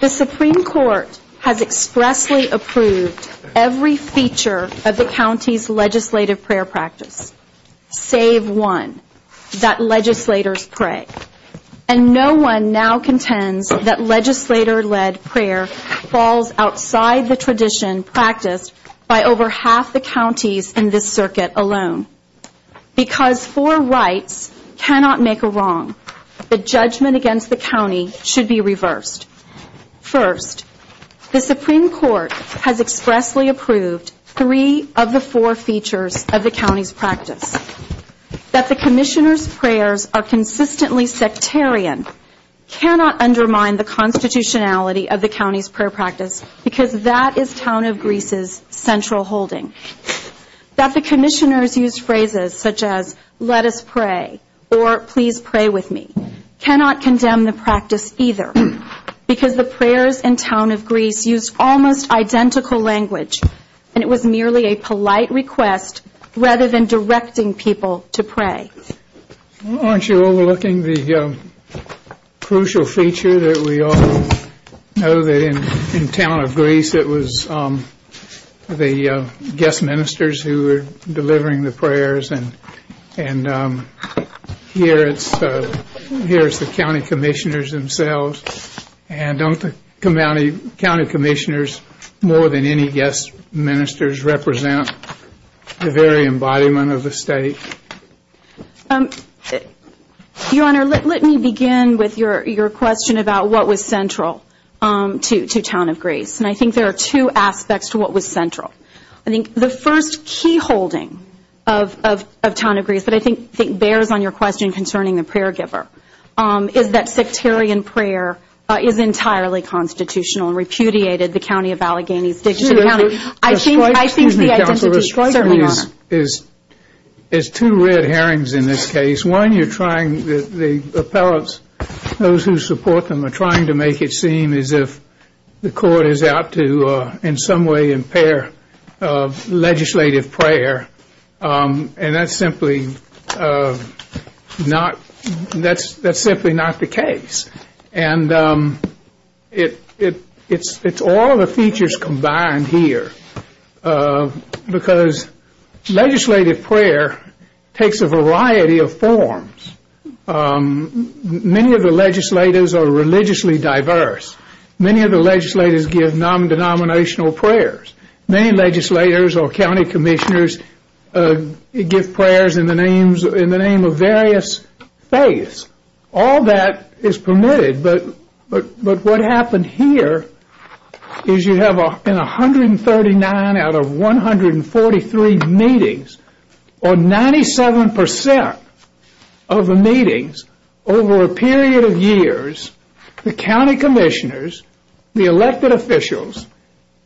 The Supreme Court has expressly approved every feature of the county's legislative prayer practice, save one, that legislators pray. And no one now contends that legislator-led prayer falls outside the tradition practiced by over half the counties in this circuit alone. Because four rights cannot make a wrong, the judgment against the county should be reversed. First, the Supreme Court has expressly approved three of the four features of the county's practice. That the commissioners' prayers are consistently sectarian cannot undermine the constitutionality of the county's prayer practice because that is Town of Greece's central holding. That the commissioners use phrases such as, let us pray or please pray with me cannot condemn the practice either because the prayers in Town of Greece use almost identical language and it was merely a polite request rather than directing people to pray. Aren't you overlooking the crucial feature that we all know that in Town of Greece it was the guest ministers who were delivering the prayers and here it's the county commissioners themselves and don't the county commissioners more than any guest ministers represent the very embodiment of the state? Your Honor, let me begin with your question about what was central to Town of Greece and I think there are two aspects to what was central. I think the first key holding of Town of Greece that I think bears on your question concerning the prayer giver is that sectarian prayer is entirely constitutional and repudiated the county of Allegheny. Excuse me counsel, there's two red herrings in this case. One, the appellants, those who support them are trying to make it seem as if the court is out to in some way impair legislative prayer and that's simply not the case. It's all the features combined here because legislative prayer takes a variety of forms. Many of the legislators are religiously diverse. Many of the legislators give non-denominational prayers. Many legislators or county commissioners give prayers in the name of various faiths. All that is permitted but what happened here is you have 139 out of 143 meetings or 97% of the meetings over a period of years, the county commissioners, the elected officials,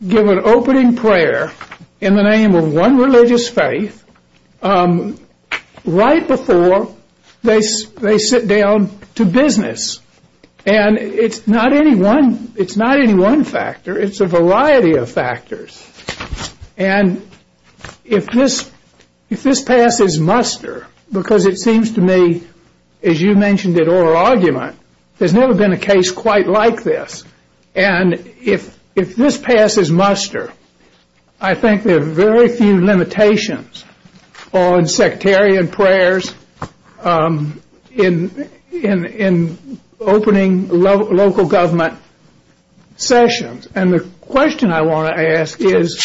give an opening prayer in the name of one religious faith right before they sit down to business and it's not any one factor, it's a variety of factors and if this path is muster because it seems to me as you mentioned in oral argument, there's never been a case quite like this and if this path is muster, I think there are very few limitations on sectarian prayers in opening local government sessions and the question I want to ask is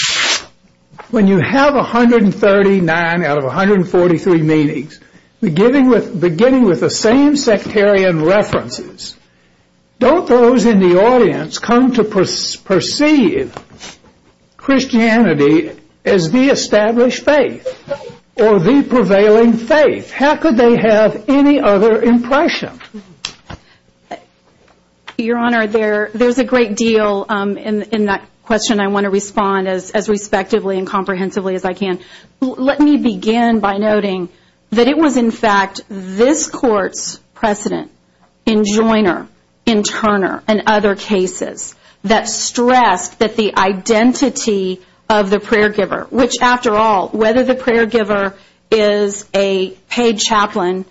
when you have 139 out of 143 meetings beginning with the same sectarian references, don't those in the audience come to perceive Christianity as the established faith or the prevailing faith? How could they have any other impression? Your Honor, there's a great deal in that question I want to respond as respectably and comprehensively as I can. Let me begin by noting that it was in fact this court's precedent in Joyner, in Turner, and other cases that stressed that the identity of the prayer giver, which after all, whether the prayer giver is a paid chaplain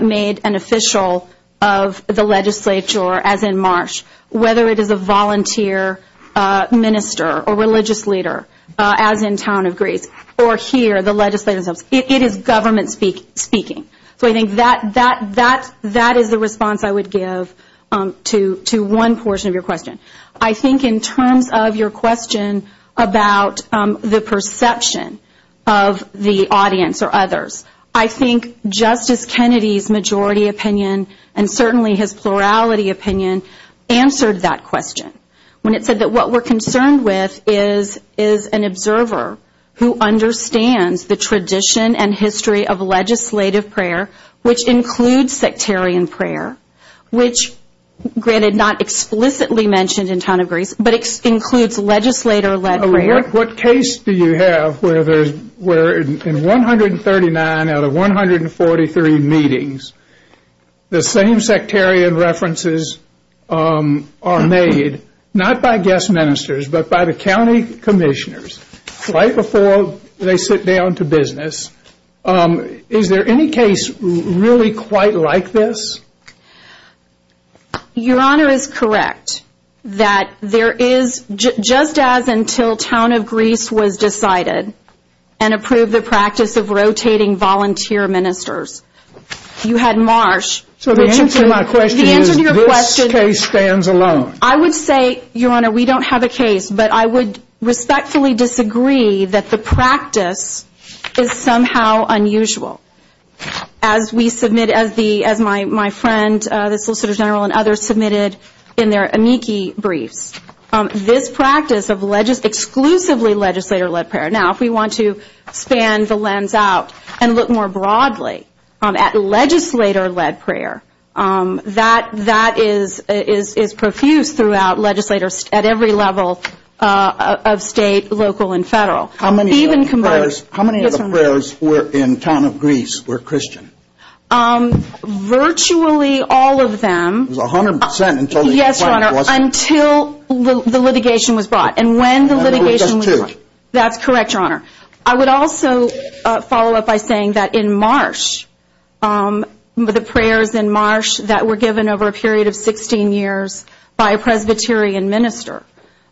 made an official of the legislature as in Marsh, whether it is a volunteer minister or religious leader as in town of Greece, or here the legislative, it is government speaking. I think that is the response I would give to one portion of your question. I think in terms of your question about the perception of the audience or others, I think Justice Kennedy's majority opinion and certainly his plurality opinion answered that question. When it said that what we're concerned with is an observer who understands the tradition and history of legislative prayer, which includes sectarian prayer, which granted not explicitly mentioned in town of Greece, but includes legislator led prayer. What case do you have where in 139 out of 143 meetings, the same sectarian references are made, not by guest ministers, but by the county commissioners right before they sit down to business. Is there any case really quite like this? Your Honor is correct that there is, just as until town of Greece was decided and approved the practice of rotating volunteer ministers, you had Marsh. So the answer to my question is this case stands alone. I would say, Your Honor, we don't have a case, but I would respectfully disagree that the practice is somehow unusual. As my friend, the Solicitor General, and others submitted in their amici brief, this practice of exclusively legislator led prayer. Now, if we want to stand the lens out and look more broadly at legislator led prayer, that is profuse throughout legislators at every level of state, local, and federal. How many of the prayers in town of Greece were Christian? Virtually all of them. 100%? Yes, Your Honor, until the litigation was brought, and when the litigation was brought. That's correct, Your Honor. I would also follow up by saying that in Marsh, the prayers in Marsh that were given over a period of 16 years by a Presbyterian minister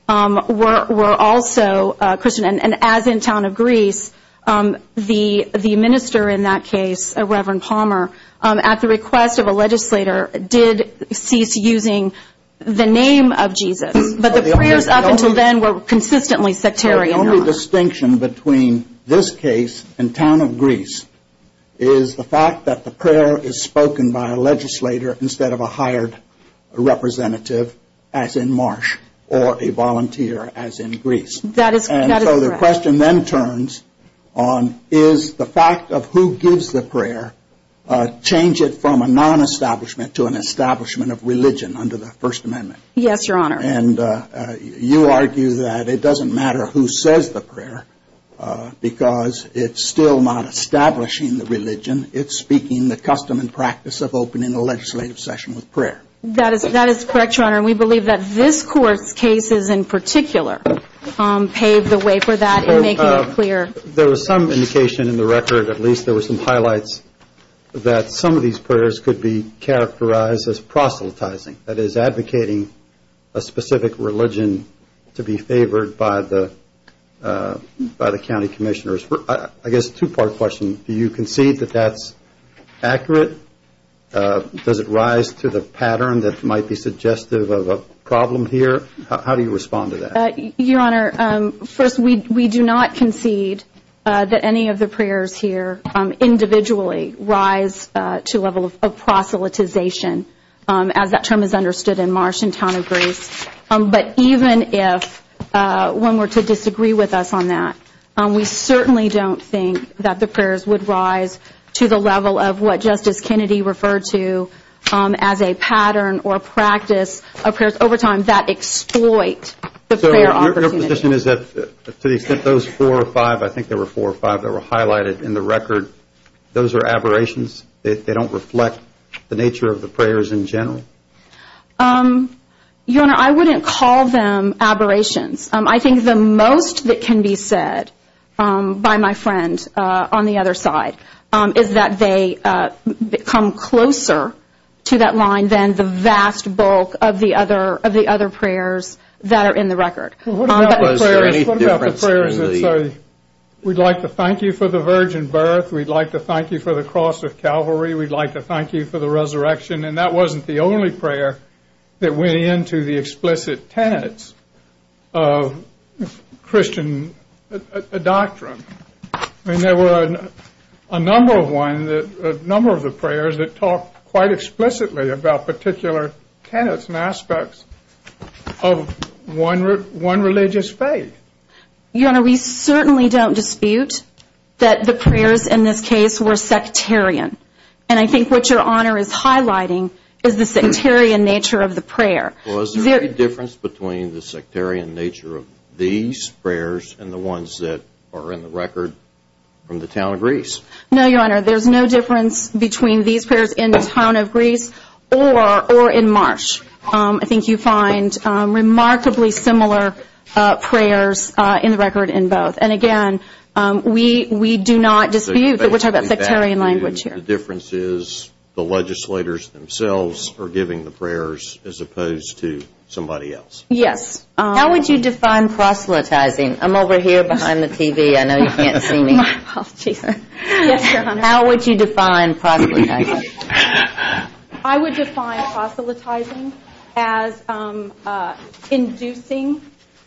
were also Christian. And as in town of Greece, the minister in that case, Reverend Palmer, at the request of a legislator, did cease using the name of Jesus. But the prayers up until then were consistently Presbyterian. The only distinction between this case and town of Greece is the fact that the prayer is spoken by a legislator instead of a hired representative, as in Marsh, or a volunteer, as in Greece. That is correct. And so the question then turns on is the fact of who gives the prayer change it from a non-establishment to an establishment of religion under the First Amendment? Yes, Your Honor. And you argue that it doesn't matter who says the prayer because it's still not establishing the religion. It's speaking the custom and practice of opening a legislative session with prayer. That is correct, Your Honor. We believe that this Court's cases in particular paved the way for that in making it clear. There was some indication in the record, at least there were some highlights, that some of these prayers could be characterized as proselytizing. That is advocating a specific religion to be favored by the county commissioners. I guess two-part question. Do you concede that that's accurate? Does it rise to the pattern that might be suggestive of a problem here? How do you respond to that? Your Honor, first, we do not concede that any of the prayers here individually rise to a level of proselytization, as that term is understood in Martian tenebris. But even if one were to disagree with us on that, we certainly don't think that the prayers would rise to the level of what Justice Kennedy referred to as a pattern or practice of prayers over time that exploits the prayer opportunity. So your position is that those four or five, I think there were four or five that were highlighted in the record, those are aberrations? They don't reflect the nature of the prayers in general? Your Honor, I wouldn't call them aberrations. I think the most that can be said by my friend on the other side is that they come closer to that line than the vast bulk of the other prayers that are in the record. What about the prayers that say, we'd like to thank you for the virgin birth, we'd like to thank you for the cross of Calvary, we'd like to thank you for the resurrection, and that wasn't the only prayer that went into the explicit tenets of Christian doctrine. There were a number of the prayers that talked quite explicitly about particular tenets and aspects of one religious faith. Your Honor, we certainly don't dispute that the prayers in this case were sectarian. And I think what Your Honor is highlighting is the sectarian nature of the prayer. Was there any difference between the sectarian nature of these prayers and the ones that are in the record from the town of Greece? No, Your Honor, there's no difference between these prayers in the town of Greece or in Marsh. I think you find remarkably similar prayers in the record in both. And again, we do not dispute that we're talking about sectarian language here. The difference is the legislators themselves are giving the prayers as opposed to somebody else. Yes. How would you define proselytizing? I'm over here behind the TV. I know you can't see me. How would you define proselytizing? I would define proselytizing as inducing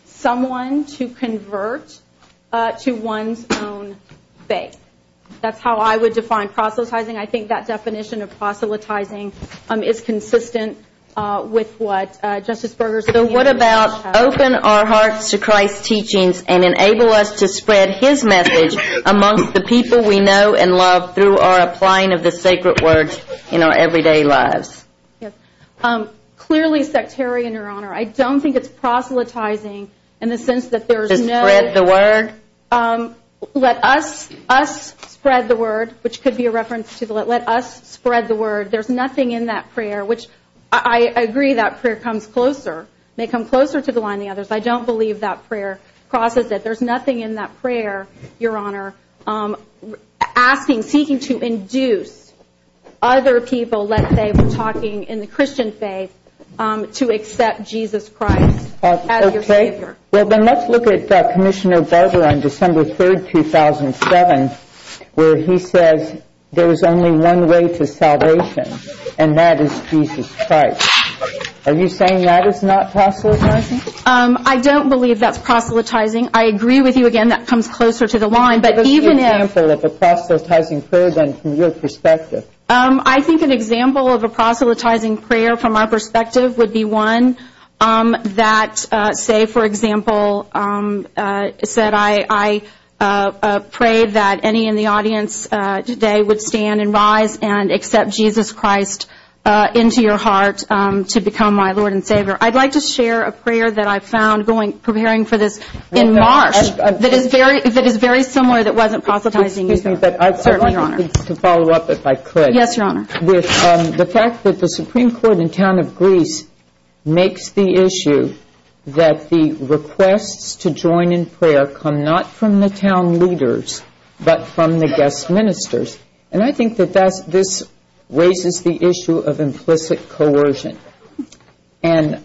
someone to convert to one's own faith. That's how I would define proselytizing. I think that definition of proselytizing is consistent with what Justice Berger said. And what about open our hearts to Christ's teachings and enable us to spread His message amongst the people we know and love through our applying of the sacred word in our everyday lives? Clearly sectarian, Your Honor. I don't think it's proselytizing in the sense that there's no – Just spread the word? Let us spread the word, which could be a reference to let us spread the word. There's nothing in that prayer, which I agree that prayer comes closer. It may come closer to the one of the others. I don't believe that prayer crosses it. There's nothing in that prayer, Your Honor, asking, seeking to induce other people, let's say, from talking in the Christian faith to accept Jesus Christ as their Savior. Well, then let's look at Commissioner Berger on December 3rd, 2007, where he says, there's only one way to salvation, and that is Jesus Christ. Are you saying that is not proselytizing? I don't believe that's proselytizing. I agree with you, again, that comes closer to the line, but even if – What's an example of a proselytizing prayer, then, from your perspective? I think an example of a proselytizing prayer, from our perspective, would be one that, say, for example, said, I pray that any in the audience today would stand and rise and accept Jesus Christ into your heart to become my Lord and Savior. I'd like to share a prayer that I found preparing for this in March that is very similar that wasn't proselytizing. I'd like to follow up, if I could. Yes, Your Honor. The fact that the Supreme Court in the town of Greece makes the issue that the requests to join in prayer come not from the town leaders, but from the guest ministers. And I think that this raises the issue of implicit coercion. And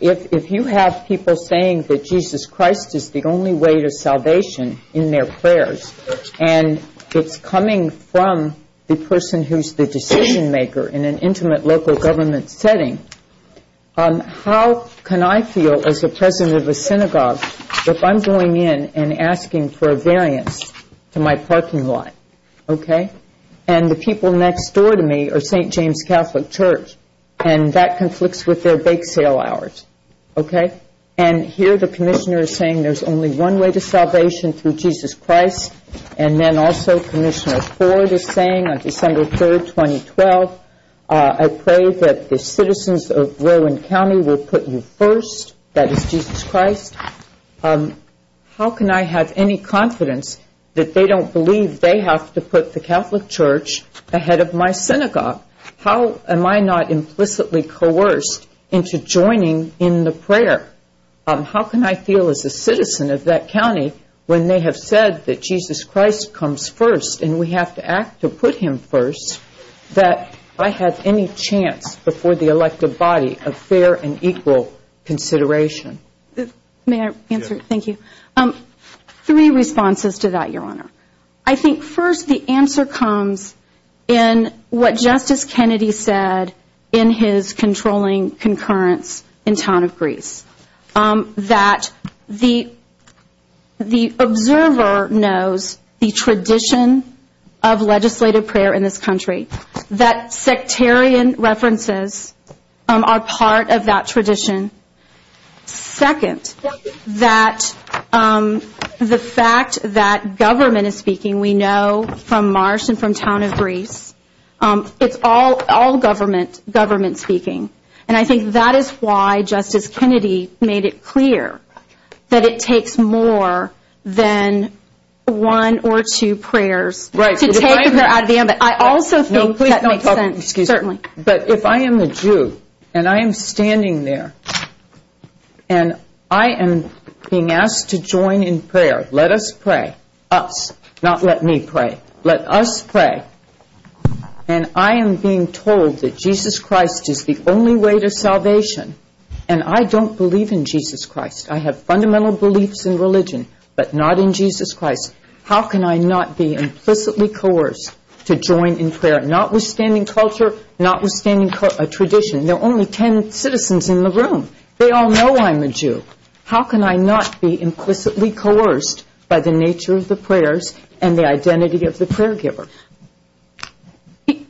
if you have people saying that Jesus Christ is the only way to salvation in their prayers, and it's coming from the person who's the decision-maker in an intimate local government setting, how can I feel as the president of a synagogue if I'm going in and asking for a variance to my parking lot, okay? And the people next door to me are St. James Catholic Church, and that conflicts with their bake sale hours, okay? And here the commissioner is saying there's only one way to salvation through Jesus Christ, and then also Commissioner Ford is saying on December 3rd, 2012, I pray that the citizens of Rowan County will put me first, that is Jesus Christ. How can I have any confidence that they don't believe they have to put the Catholic Church ahead of my synagogue? How am I not implicitly coerced into joining in the prayer? How can I feel as a citizen of that county when they have said that Jesus Christ comes first and we have to act to put him first, that I have any chance before the elective body of fair and equal consideration? May I answer? Thank you. Three responses to that, Your Honor. I think first the answer comes in what Justice Kennedy said in his controlling concurrence in town of Greece, that the observer knows the tradition of legislative prayer in this country, that sectarian references are part of that tradition. Second, that the fact that government is speaking, we know from Marsh and from town of Greece, it's all government speaking. And I think that is why Justice Kennedy made it clear that it takes more than one or two prayers. I also think that makes sense, certainly. But if I am a Jew and I am standing there and I am being asked to join in prayer, let us pray, us, not let me pray, let us pray, and I am being told that Jesus Christ is the only way to salvation and I don't believe in Jesus Christ. I have fundamental beliefs in religion, but not in Jesus Christ. How can I not be implicitly coerced to join in prayer, not withstanding culture, not withstanding a tradition? There are only ten citizens in the room. They all know I am a Jew. How can I not be implicitly coerced by the nature of the prayers and the identity of the prayer givers?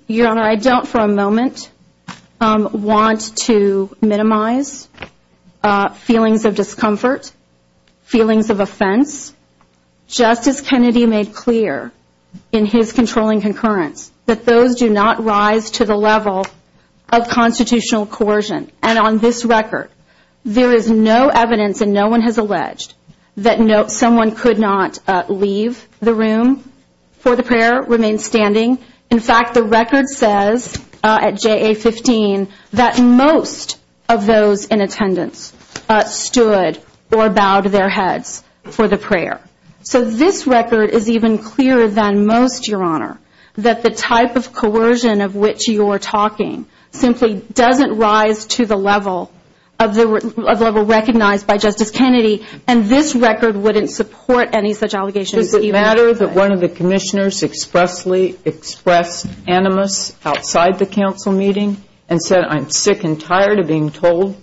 Your Honor, I don't for a moment want to minimize feelings of discomfort, feelings of offense. Justice Kennedy made clear in his controlling concurrence that those do not rise to the level of constitutional coercion. And on this record, there is no evidence and no one has alleged that someone could not leave the room for the prayer, remain standing. In fact, the record says at JA-15 that most of those in attendance stood or bowed their heads for the prayer. So this record is even clearer than most, Your Honor, that the type of coercion of which you are talking simply doesn't rise to the level recognized by Justice Kennedy, and this record wouldn't support any such allegation. Does it matter that one of the commissioners expressly expressed animus outside the council meeting and said I'm sick and tired of being told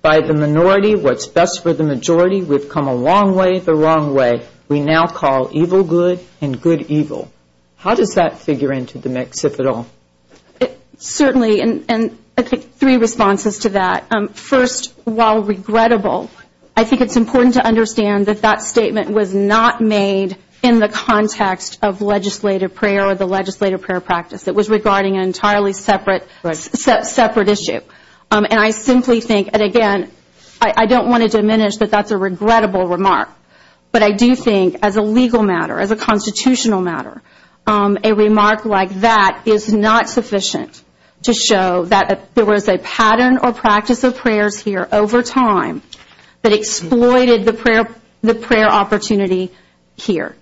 by the minority what's best for the majority. We've come a long way the wrong way. We now call evil good and good evil. How does that figure into the mectipital? Certainly, and I think three responses to that. First, while regrettable, I think it's important to understand that that statement was not made in the context of legislative prayer or the legislative prayer practice. It was regarding an entirely separate issue. And I simply think, and again, I don't want to diminish that that's a regrettable remark, but I do think as a legal matter, as a constitutional matter, a remark like that is not sufficient to show that there was a pattern or practice of prayer here over time that exploited the prayer opportunity here.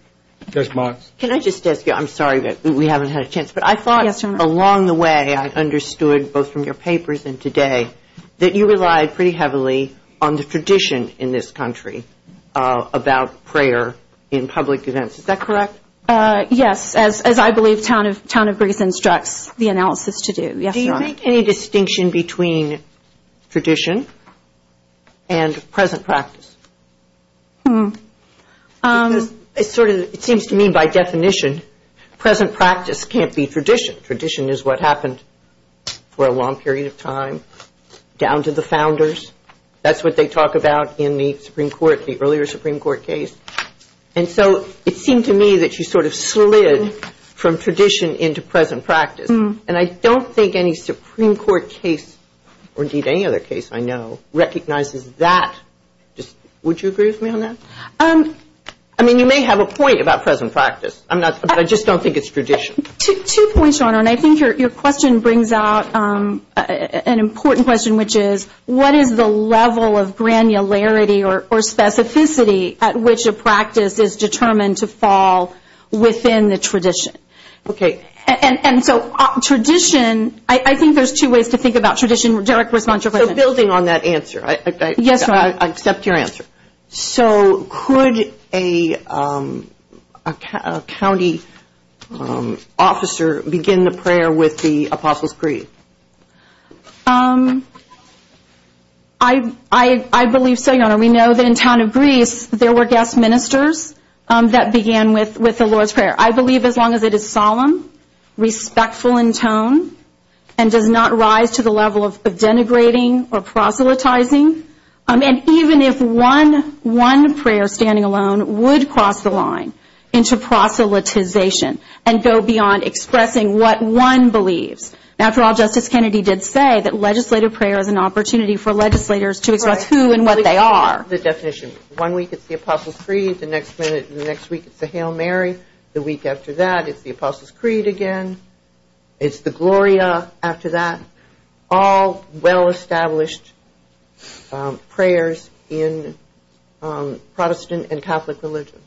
Judge Miles. Can I just ask you, I'm sorry, but we haven't had a chance. Yes, Your Honor. Along the way I've understood, both from your papers and today, that you relied pretty heavily on the tradition in this country about prayer in public events. Is that correct? Yes, as I believe Town of Brigham instructs the analysis to do. Yes, Your Honor. Do you think any distinction between tradition and present practice? It seems to me by definition, present practice can't be tradition. Tradition is what happened for a long period of time down to the founders. That's what they talk about in the Supreme Court, the earlier Supreme Court case. And so it seems to me that you sort of slid from tradition into present practice. And I don't think any Supreme Court case, or indeed any other case I know, recognizes that. Would you agree with me on that? I mean, you may have a point about present practice, but I just don't think it's tradition. Two points, Your Honor, and I think your question brings up an important question, which is what is the level of granularity or specificity at which a practice is determined to fall within the tradition? Okay. And so tradition, I think there's two ways to think about tradition. So building on that answer, I accept your answer. So could a county officer begin the prayer with the Apostle's Prayer? I believe so, Your Honor. We know that in the town of Greece there were guest ministers that began with the Lord's Prayer. I believe as long as it is solemn, respectful in tone, and does not rise to the level of denigrating or proselytizing, and even if one prayer standing alone would cross the line into proselytization and go beyond expressing what one believes. After all, Justice Kennedy did say that legislative prayer is an opportunity for legislators to express who and what they are. It's not the definition. One week it's the Apostle's Creed. The next week it's the Hail Mary. The week after that it's the Apostle's Creed again. It's the Gloria after that. All well-established prayers in Protestant and Catholic religions.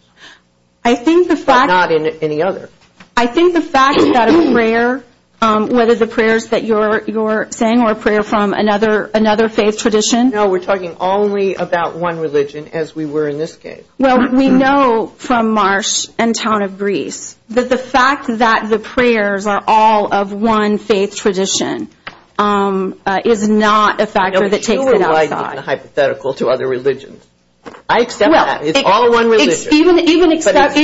I think the fact that a prayer, whether the prayers that you're saying are prayers from another faith tradition. No, we're talking only about one religion as we were in this case. Well, we know from Marsh and town of Greece that the fact that the prayers are all of one faith tradition is not a factor that takes it outside. No, it surely lies in the hypothetical to other religions. I accept that. It's all one religion. Even except for. Not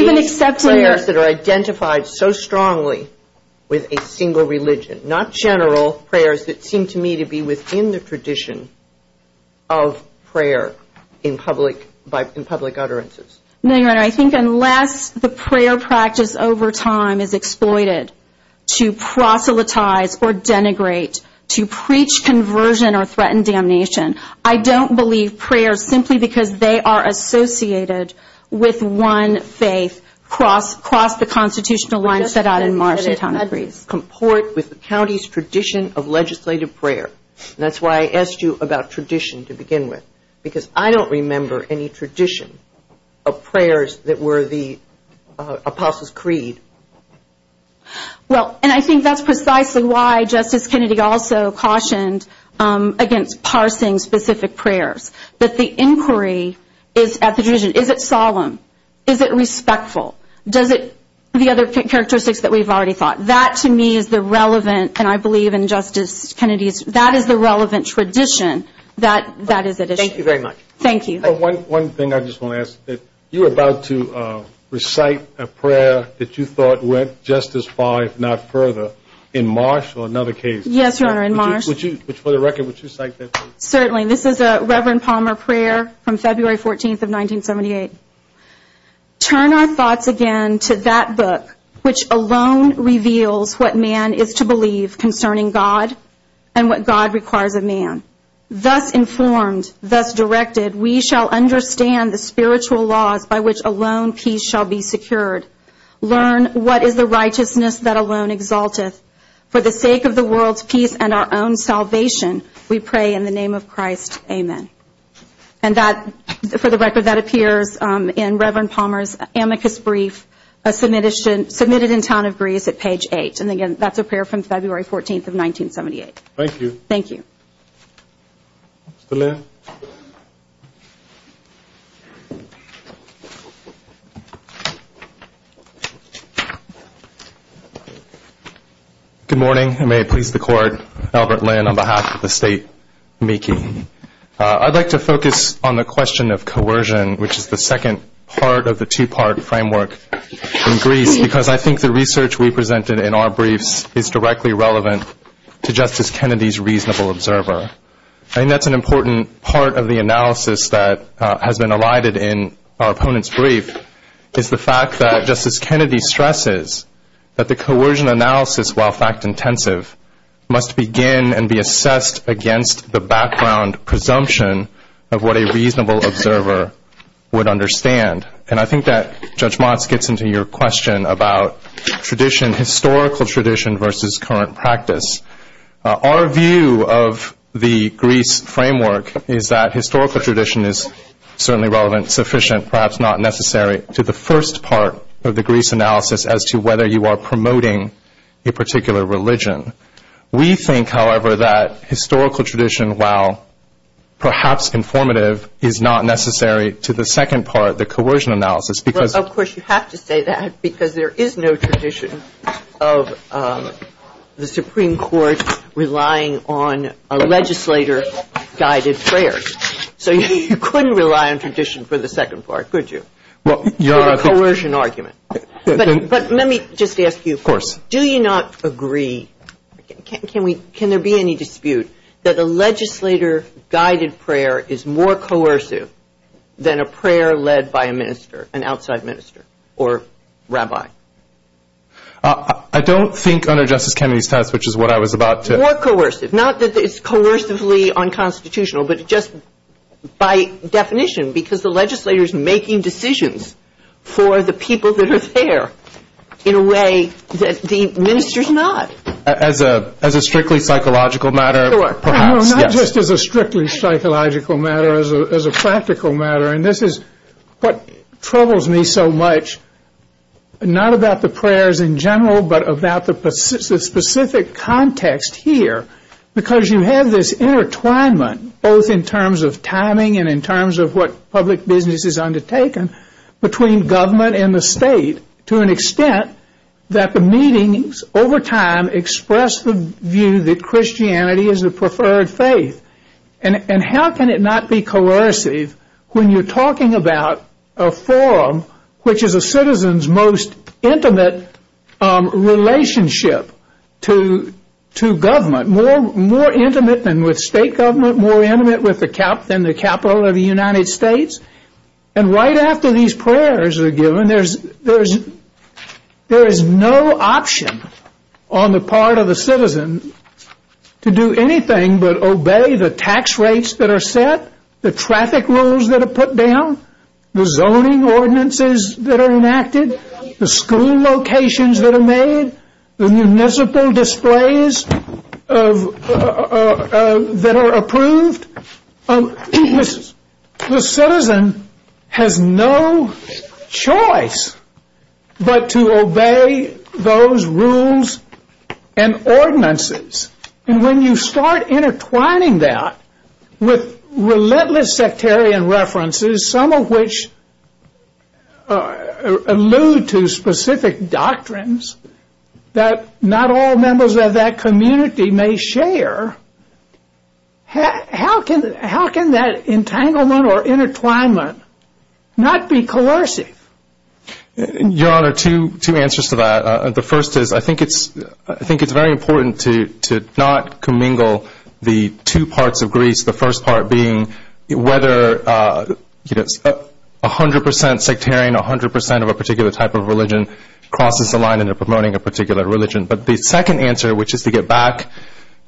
general prayers that seem to me to be within the tradition of prayer in public utterances. I think unless the prayer practice over time is exploited to proselytize or denigrate, to preach conversion or threaten damnation, I don't believe prayers simply because they are associated with one faith across the constitutional line set out in Marsh and town of Greece. Comport with the county's tradition of legislative prayer. That's why I asked you about tradition to begin with because I don't remember any tradition of prayers that were the Apostle's Creed. Well, and I think that's precisely why Justice Kennedy also cautioned against parsing specific prayers. That the inquiry is at the division. Is it solemn? Is it respectful? Does it, the other characteristics that we've already thought. That to me is the relevant, and I believe in Justice Kennedy, that is the relevant tradition that is at issue. Thank you very much. Thank you. One thing I just want to ask, you were about to recite a prayer that you thought went just as far, if not further, in Marsh or another case. Yes, sir, in Marsh. Would you, for the record, would you cite that? Certainly. This is a Reverend Palmer prayer from February 14th of 1978. Turn our thoughts again to that book which alone reveals what man is to believe concerning God and what God requires of man. Thus informed, thus directed, we shall understand the spiritual laws by which alone peace shall be secured. Learn what is the righteousness that alone exalteth. For the sake of the world's peace and our own salvation, we pray in the name of Christ. Amen. And that, for the record, that appears in Reverend Palmer's amicus brief submitted in town of Greece at page 8. And again, that's a prayer from February 14th of 1978. Thank you. Thank you. Mr. Lear. Good morning, and may it please the Court, Albert Lear on behalf of the state amicus. I'd like to focus on the question of coercion, which is the second part of the two-part framework in Greece, because I think the research we presented in our briefs is directly relevant to Justice Kennedy's reasonable observer. I think that's an important part of the analysis that has been elided in our opponent's brief, is the fact that Justice Kennedy stresses that the coercion analysis, while fact-intensive, must begin and be assessed against the background presumption of what a reasonable observer would understand. And I think that, Judge Motz, gets into your question about tradition, historical tradition versus current practice. Our view of the Greece framework is that historical tradition is certainly relevant, sufficient, perhaps not necessary to the first part of the Greece analysis as to whether you are promoting a particular religion. We think, however, that historical tradition, while perhaps informative, is not necessary to the second part, the coercion analysis. Of course, you have to say that, because there is no tradition of the Supreme Court relying on a legislator-guided prayer. So you couldn't rely on tradition for the second part, could you? Well, you're right. It's a coercion argument. But let me just ask you, do you not agree, can there be any dispute, that a legislator-guided prayer is more coercive than a prayer led by a minister, an outside minister or rabbi? I don't think under Justice Kennedy's test, which is what I was about to – More coercive. Not that it's coercively unconstitutional, but just by definition, because the legislator is making decisions for the people that are there in a way that the minister is not. As a strictly psychological matter, perhaps. Not just as a strictly psychological matter, as a practical matter. And this is what troubles me so much, not about the prayers in general, but about the specific context here, because you have this intertwinement, both in terms of timing and in terms of what public business is undertaken, between government and the state, to an extent that the meetings, over time, express the view that Christianity is a preferred faith. And how can it not be coercive when you're talking about a forum, which is a citizen's most intimate relationship to government, more intimate than with state government, more intimate than the capital of the United States. And right after these prayers are given, there is no option on the part of the citizen to do anything but obey the tax rates that are set, the traffic rules that are put down, the zoning ordinances that are enacted, the school locations that are made, the municipal displays that are approved. The citizen has no choice but to obey those rules and ordinances. And when you start intertwining that with relentless sectarian references, some of which allude to specific doctrines that not all members of that community may share, how can that entanglement or intertwinement not be coercive? Your Honor, two answers to that. The first is I think it's very important to not commingle the two parts of Greece, the first part being whether 100 percent sectarian, 100 percent of a particular type of religion, crosses the line in promoting a particular religion. But the second answer, which is to get back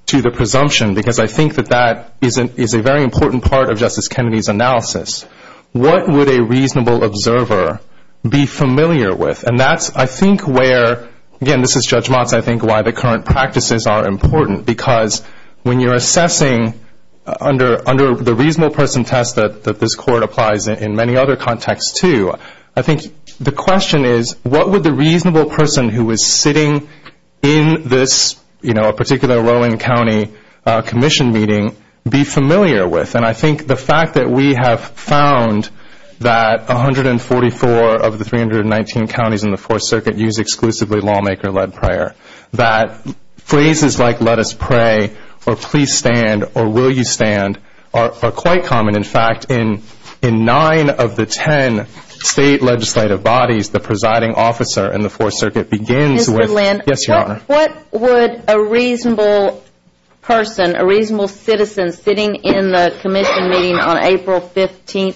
to the presumption, because I think that that is a very important part of Justice Kennedy's analysis, what would a reasonable observer be familiar with? And that's, I think, where, again, this is Judge Mock, I think, why the current practices are important because when you're assessing under the reasonable person test that this Court applies in many other contexts too, I think the question is, what would the reasonable person who was sitting in this, you know, particular Rowan County Commission meeting be familiar with? And I think the fact that we have found that 144 of the 319 counties in the Fourth Circuit use exclusively lawmaker-led prayer, that phrases like let us pray or please stand or will you stand are quite common. And, in fact, in 9 of the 10 state legislative bodies, the presiding officer in the Fourth Circuit begins with this. Mr. Lynn, what would a reasonable person, a reasonable citizen sitting in the Commission meeting on April 15,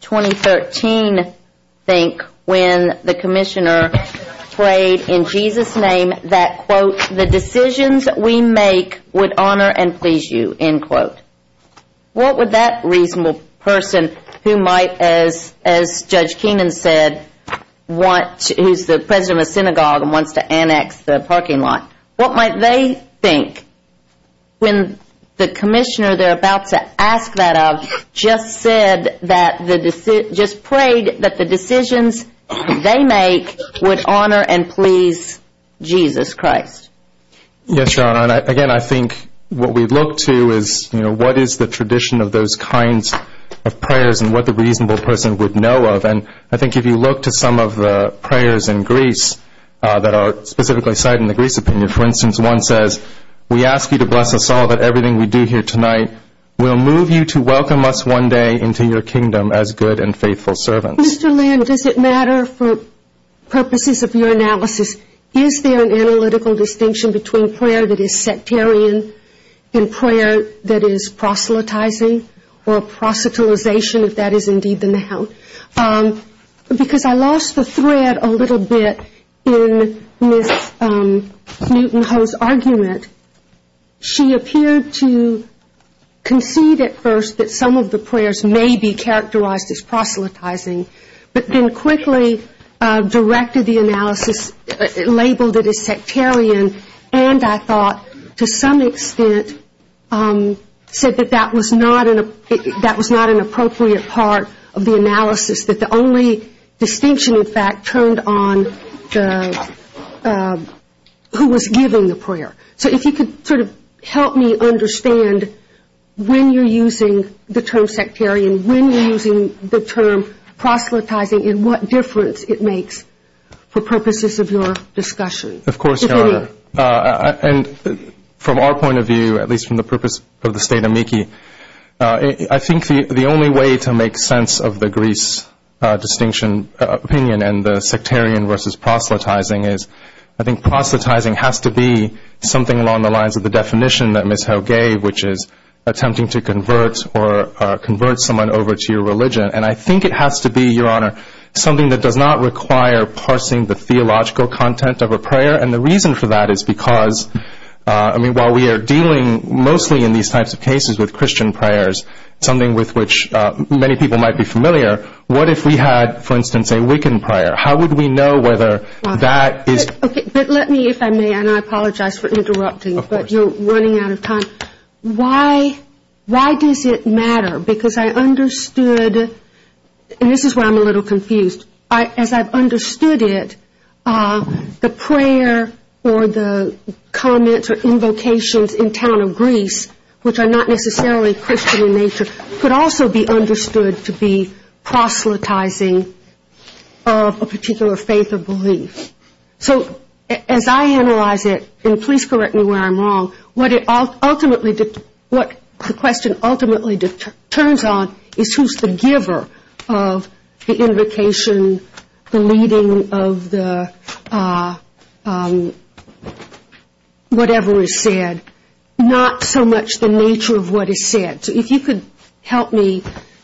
2013 think when the Commissioner prayed in Jesus' name that, quote, the decisions we make would honor and please you, end quote? What would that reasonable person who might, as Judge Keenan said, who's the president of the synagogue and wants to annex the parking lot, what might they think when the Commissioner they're about to ask that of just prayed that the decisions they make would honor and please Jesus Christ? Yes, Your Honor. And, again, I think what we look to is, you know, what is the tradition of those kinds of prayers and what the reasonable person would know of. And I think if you look to some of the prayers in Greece that are specifically cited in the Greece opinion, for instance, one says we ask you to bless us all with everything we do here tonight. We'll move you to welcome us one day into your kingdom as good and faithful servants. Mr. Lynn, does it matter for purposes of your analysis, is there an analytical distinction between prayer that is sectarian and prayer that is proselytizing or proselytization, if that is indeed the noun? Because I lost the thread a little bit in Ms. Newton-Ho's argument. She appeared to concede at first that some of the prayers may be characterized as proselytizing, but then quickly directed the analysis, labeled it as sectarian, and I thought to some extent said that that was not an appropriate part of the analysis, that the only distinction, in fact, turned on who was giving the prayer. So if you could sort of help me understand when you're using the term sectarian, when you're using the term proselytizing, and what difference it makes for purposes of your discussion. Of course, Your Honor. And from our point of view, at least from the purpose of the state amici, I think the only way to make sense of the Greece distinction opinion and the sectarian versus proselytizing is I think proselytizing has to be something along the lines of the definition that Ms. Ho gave, which is attempting to convert someone over to your religion, and I think it has to be, Your Honor, something that does not require parsing the theological content of a prayer, and the reason for that is because while we are dealing mostly in these types of cases with Christian prayers, something with which many people might be familiar, what if we had, for instance, a Wiccan prayer? How would we know whether that is... Okay, but let me, if I may, and I apologize for interrupting, but you're running out of time. Why does it matter? Because I understood, and this is where I'm a little confused. As I've understood it, the prayer or the comments or invocations in town of Greece, which are not necessarily Christian in nature, could also be understood to be proselytizing of a particular faith or belief. So as I analyze it, and please correct me where I'm wrong, what the question ultimately turns on is who's the giver of the invocation, the leading of the whatever is said, not so much the nature of what is said. So if you could help me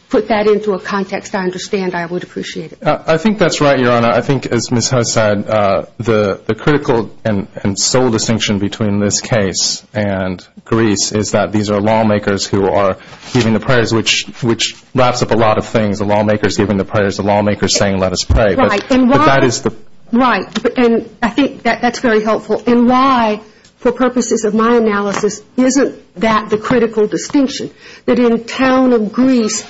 put that into a context I understand, I would appreciate it. I think that's right, Your Honor. I think, as Ms. Hodes said, the critical and sole distinction between this case and Greece is that these are lawmakers who are giving the prayers, which wraps up a lot of things, the lawmakers giving the prayers, the lawmakers saying let us pray. Right, and I think that's very helpful. And why, for purposes of my analysis, isn't that the critical distinction, that in town of Greece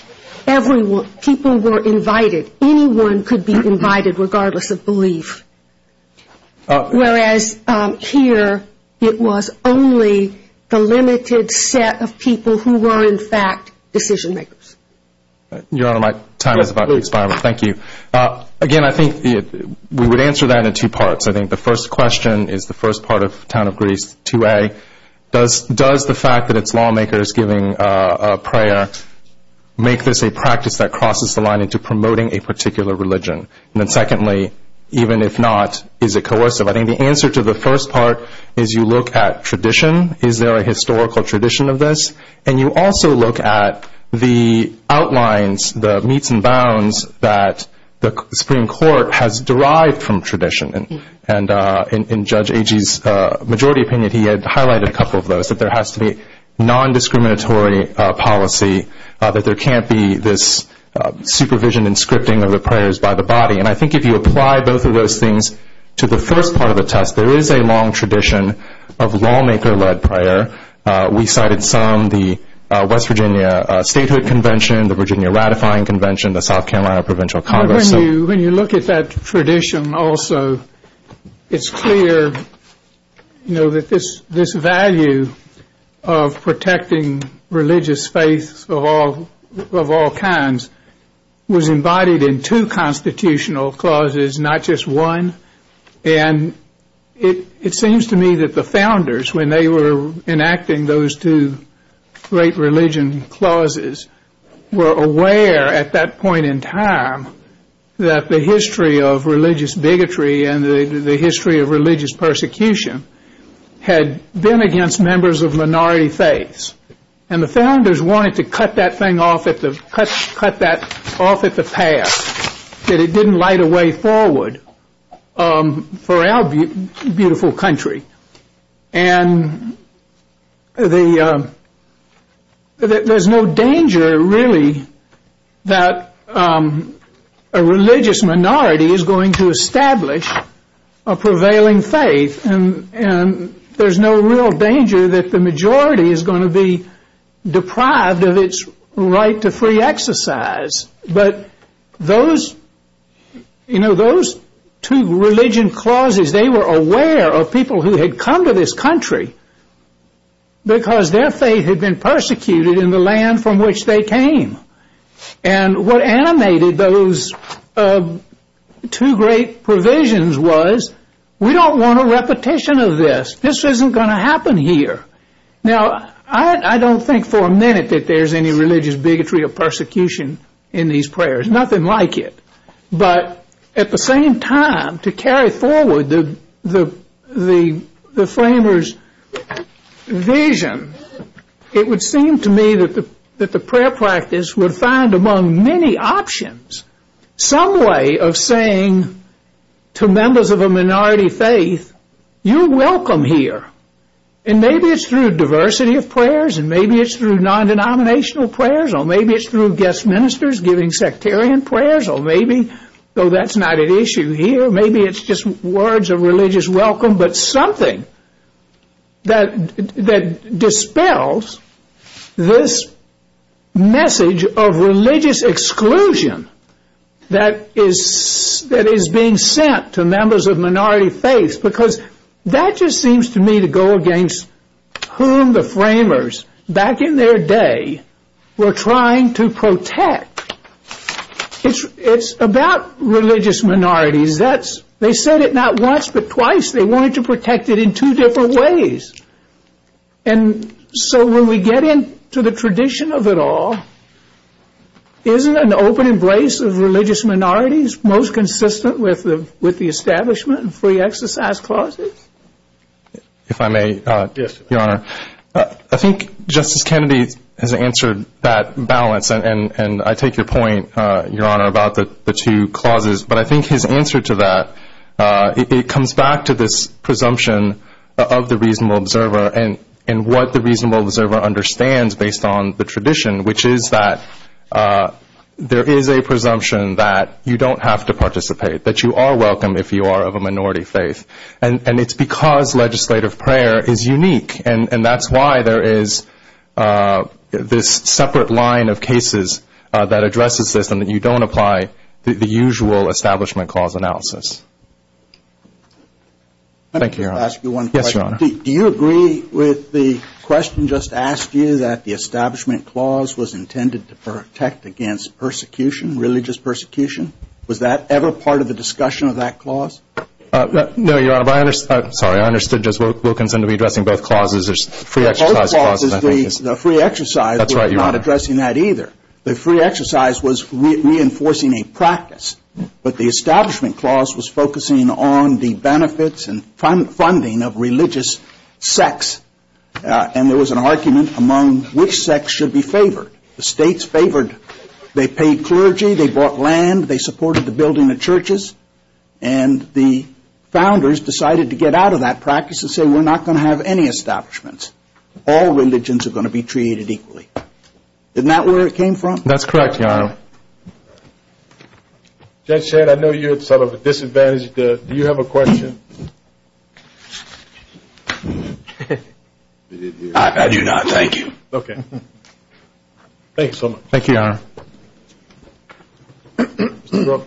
people were invited, anyone could be invited regardless of belief, whereas here it was only the limited set of people who were, in fact, decision makers. Your Honor, my time is about to expire. Thank you. Again, I think we would answer that in two parts. I think the first question is the first part of town of Greece 2A. Does the fact that it's lawmakers giving a prayer make this a practice that crosses the line into promoting a particular religion? And then secondly, even if not, is it coercive? I think the answer to the first part is you look at tradition. Is there a historical tradition of this? And you also look at the outlines, the meets and bounds, that the Supreme Court has derived from tradition. And in Judge Agee's majority opinion, he had highlighted a couple of those, that there has to be nondiscriminatory policy, that there can't be this supervision and scripting of the prayers by the body. And I think if you apply both of those things to the first part of the test, there is a long tradition of lawmaker-led prayer. We cited some, the West Virginia Statehood Convention, the Virginia Ratifying Convention, the South Carolina Provincial Congress. When you look at that tradition also, it's clear that this value of protecting religious faith of all kinds was embodied in two constitutional clauses, not just one. And it seems to me that the founders, when they were enacting those two great religion clauses, were aware at that point in time that the history of religious bigotry and the history of religious persecution had been against members of minority faiths. And the founders wanted to cut that thing off at the pass, that it didn't light a way forward for our beautiful country. And there's no danger, really, that a religious minority is going to establish a prevailing faith. And there's no real danger that the majority is going to be deprived of its right to free exercise. But those two religion clauses, they were aware of people who had come to this country because their faith had been persecuted in the land from which they came. And what animated those two great provisions was, we don't want a repetition of this. This isn't going to happen here. Now, I don't think for a minute that there's any religious bigotry or persecution in these prayers. Nothing like it. But at the same time, to carry forward the framers' vision, it would seem to me that the prayer practice would find among many options some way of saying to members of a minority faith, you're welcome here. And maybe it's through diversity of prayers, and maybe it's through non-denominational prayers, or maybe it's through guest ministers giving sectarian prayers, or maybe that's not an issue here. Maybe it's just words of religious welcome, but something that dispels this message of religious exclusion that is being sent to members of minority faith because that just seems to me to go against whom the framers, back in their day, were trying to protect. It's about religious minorities. They said it not once but twice. They wanted to protect it in two different ways. And so when we get into the tradition of it all, isn't an open embrace of religious minorities most consistent with the establishment and free exercise clauses? If I may, Your Honor. I think Justice Kennedy has answered that balance, and I take your point, Your Honor, about the two clauses. But I think his answer to that, it comes back to this presumption of the reasonable observer and what the reasonable observer understands based on the tradition, which is that there is a presumption that you don't have to participate, that you are welcome if you are of a minority faith. And it's because legislative prayer is unique, and that's why there is this separate line of cases that addresses this and that you don't apply the usual establishment clause analysis. Thank you, Your Honor. Let me just ask you one question. Yes, Your Honor. Do you agree with the question just asked you that the establishment clause was intended to protect against persecution, religious persecution? Was that ever part of the discussion of that clause? No, Your Honor. I'm sorry. I understood. We'll continue to be addressing both clauses. There's free exercise clauses. Both clauses, the free exercise was not addressing that either. The free exercise was reinforcing a practice, but the establishment clause was focusing on the benefits and funding of religious sects, and there was an argument among which sects should be favored. The states favored. They paid clergy. They bought land. They supported the building of churches. And the founders decided to get out of that practice and say we're not going to have any establishments. All religions are going to be treated equally. Isn't that where it came from? That's correct, Your Honor. Judge Shad, I know you're sort of disadvantaged. Do you have a question? I do not. Thank you. Thank you so much. Thank you, Your Honor. Your Honor.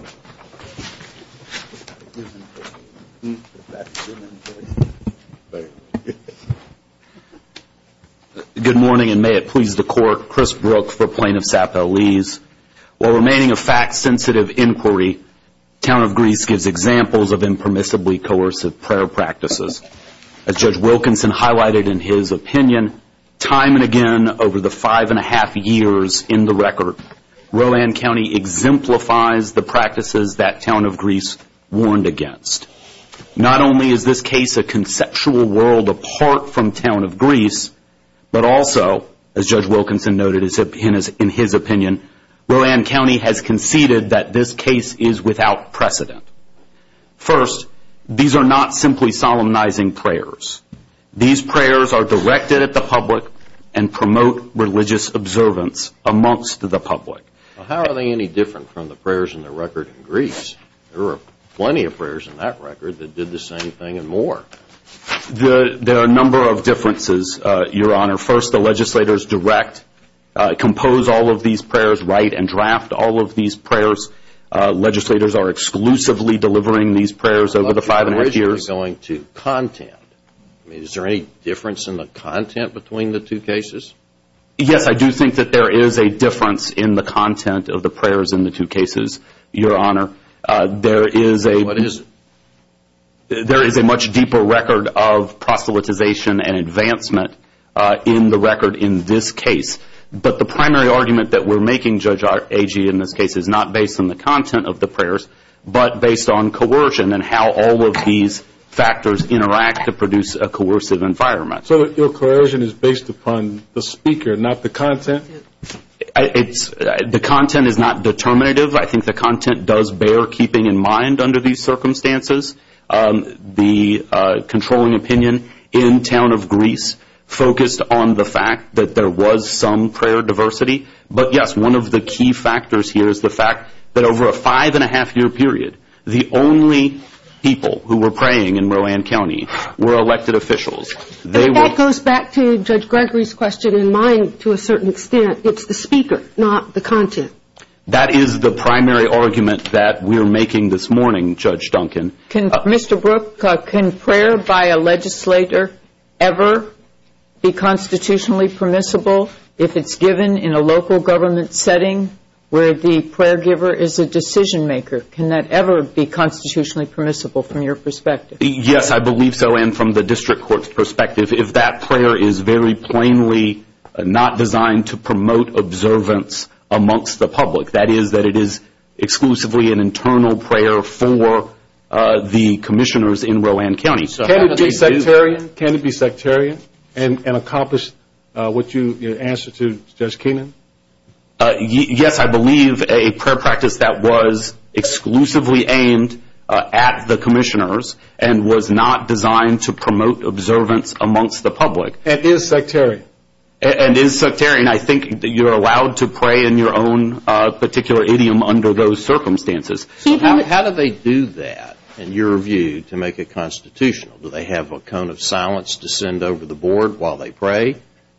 Good morning, and may it please the Court. Chris Brooks for Plaintiff's Appeal leaves. While remaining a fact-sensitive inquiry, the County of Greece gives examples of impermissibly coercive prayer practices. As Judge Wilkinson highlighted in his opinion, time and again over the five-and-a-half years in the record, Roland County exemplifies the practices that Town of Greece warned against. Not only is this case a conceptual world apart from Town of Greece, but also, as Judge Wilkinson noted in his opinion, Roland County has conceded that this case is without precedent. First, these are not simply solemnizing prayers. These prayers are directed at the public and promote religious observance amongst the public. How are they any different from the prayers in the record in Greece? There were plenty of prayers in that record that did the same thing and more. There are a number of differences, Your Honor. First, the legislators direct, compose all of these prayers, write and draft all of these prayers. Legislators are exclusively delivering these prayers over the five-and-a-half years. Is there any difference in the content between the two cases? Yes, I do think that there is a difference in the content of the prayers in the two cases, Your Honor. There is a much deeper record of proselytization and advancement in the record in this case. But the primary argument that we're making, Judge Agee, in this case, but based on coercion and how all of these factors interact to produce a coercive environment. So your coercion is based upon the speaker, not the content? The content is not determinative. I think the content does bear keeping in mind under these circumstances. The controlling opinion in town of Greece focused on the fact that there was some prayer diversity. But yes, one of the key factors here is the fact that over a five-and-a-half-year period, the only people who were praying in Rowan County were elected officials. That goes back to Judge Gregory's question in mind to a certain extent. It's the speaker, not the content. That is the primary argument that we're making this morning, Judge Duncan. Mr. Brook, can prayer by a legislator ever be constitutionally permissible if it's given in a local government setting where the prayer giver is a decision maker? Can that ever be constitutionally permissible from your perspective? Yes, I believe, Joanne, from the district court's perspective, if that prayer is very plainly not designed to promote observance amongst the public, that is that it is exclusively an internal prayer for the commissioners in Rowan County. Can it be sectarian and accomplish what you answered to Judge Keenan? Yes, I believe a prayer practice that was exclusively aimed at the commissioners and was not designed to promote observance amongst the public. And is sectarian? And is sectarian. I think you're allowed to pray in your own particular idiom under those circumstances. How do they do that, in your view, to make it constitutional? Do they have a cone of silence to send over the board while they pray?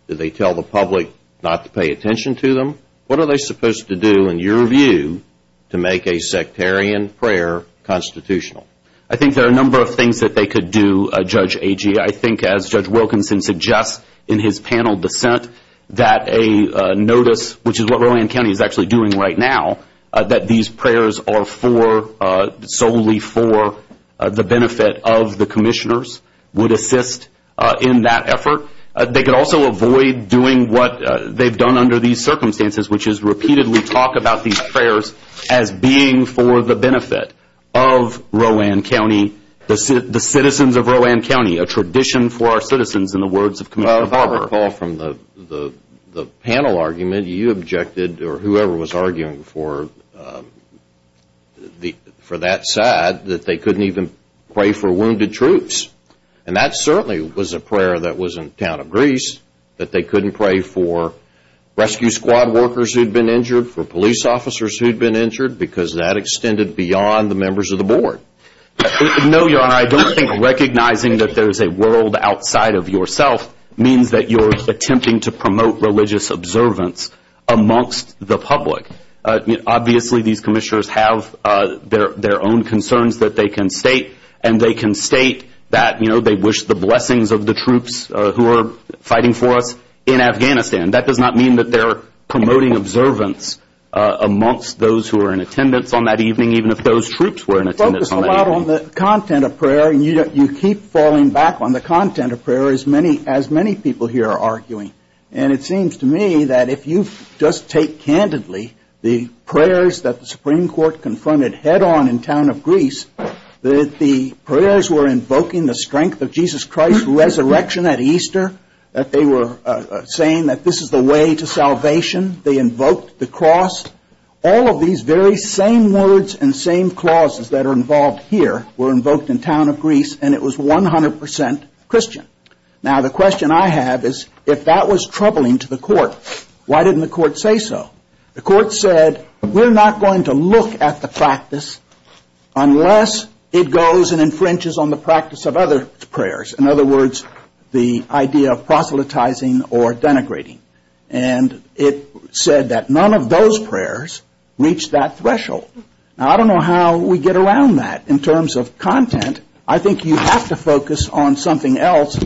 Do they tell the public not to pay attention to them? What are they supposed to do, in your view, to make a sectarian prayer constitutional? I think there are a number of things that they could do, Judge Agee. I think, as Judge Wilkinson suggests in his panel dissent, that a notice, which is what Rowan County is actually doing right now, that these prayers are solely for the benefit of the commissioners would assist in that effort. They could also avoid doing what they've done under these circumstances, which is repeatedly talk about these prayers as being for the benefit of Rowan County, the citizens of Rowan County, a tradition for our citizens, in the words of Commissioner Barber. I recall from the panel argument, you objected, or whoever was arguing for that side, that they couldn't even pray for wounded troops. And that certainly was a prayer that was in account of Greece, that they couldn't pray for rescue squad workers who'd been injured, for police officers who'd been injured, because that extended beyond the members of the board. No, Your Honor, I don't think recognizing that there's a world outside of yourself means that you're attempting to promote religious observance amongst the public. Obviously, these commissioners have their own concerns that they can state, and they can state that they wish the blessings of the troops who are fighting for us in Afghanistan. That does not mean that they're promoting observance amongst those who are in attendance on that evening, even if those troops were in attendance on that evening. You focus a lot on the content of prayer, and you keep falling back on the content of prayer, as many people here are arguing. And it seems to me that if you just take candidly the prayers that the Supreme Court confronted head-on in town of Greece, that the prayers were invoking the strength of Jesus Christ's resurrection at Easter, that they were saying that this is the way to salvation, they invoked the cross, all of these very same words and same clauses that are involved here were invoked in town of Greece, and it was 100% Christian. Now, the question I have is, if that was troubling to the court, why didn't the court say so? The court said, we're not going to look at the practice unless it goes and infringes on the practice of other prayers, in other words, the idea of proselytizing or denigrating. And it said that none of those prayers reached that threshold. Now, I don't know how we get around that in terms of content. I think you have to focus on something else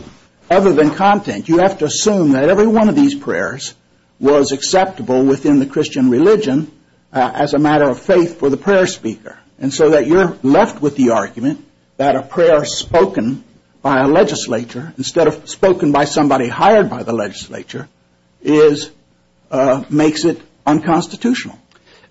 other than content. You have to assume that every one of these prayers was acceptable within the Christian religion as a matter of faith for the prayer speaker, and so that you're left with the argument that a prayer spoken by a legislature, instead of spoken by somebody hired by the legislature, makes it unconstitutional.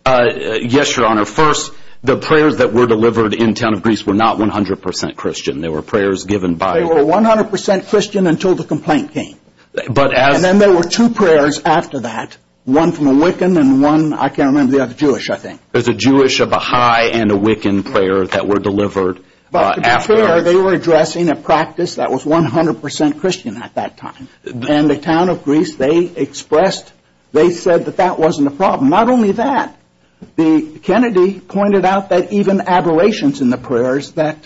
Yes, Your Honor. First, the prayers that were delivered in town of Greece were not 100% Christian. They were prayers given by... They were 100% Christian until the complaint came. And then there were two prayers after that, one from a Wiccan and one, I can't remember the other, Jewish, I think. There's a Jewish, a Baha'i, and a Wiccan prayer that were delivered after... They were addressing a practice that was 100% Christian at that time. And the town of Greece, they expressed, they said that that wasn't a problem. Not only that, Kennedy pointed out that even aberrations in the prayers that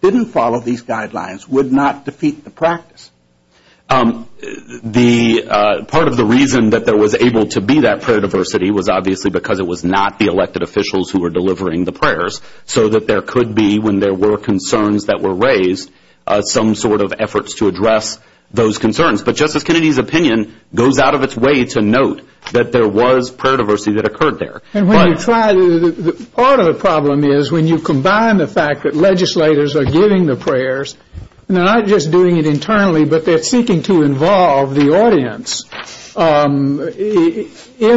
didn't follow these guidelines would not defeat the practice. Part of the reason that there was able to be that prayer diversity was obviously because it was not the elected officials who were delivering the prayers, so that there could be, when there were concerns that were raised, some sort of efforts to address those concerns. But Justice Kennedy's opinion goes out of its way to note that there was prayer diversity that occurred there. Part of the problem is when you combine the fact that legislators are giving the prayers, not just doing it internally, but they're seeking to involve the audience in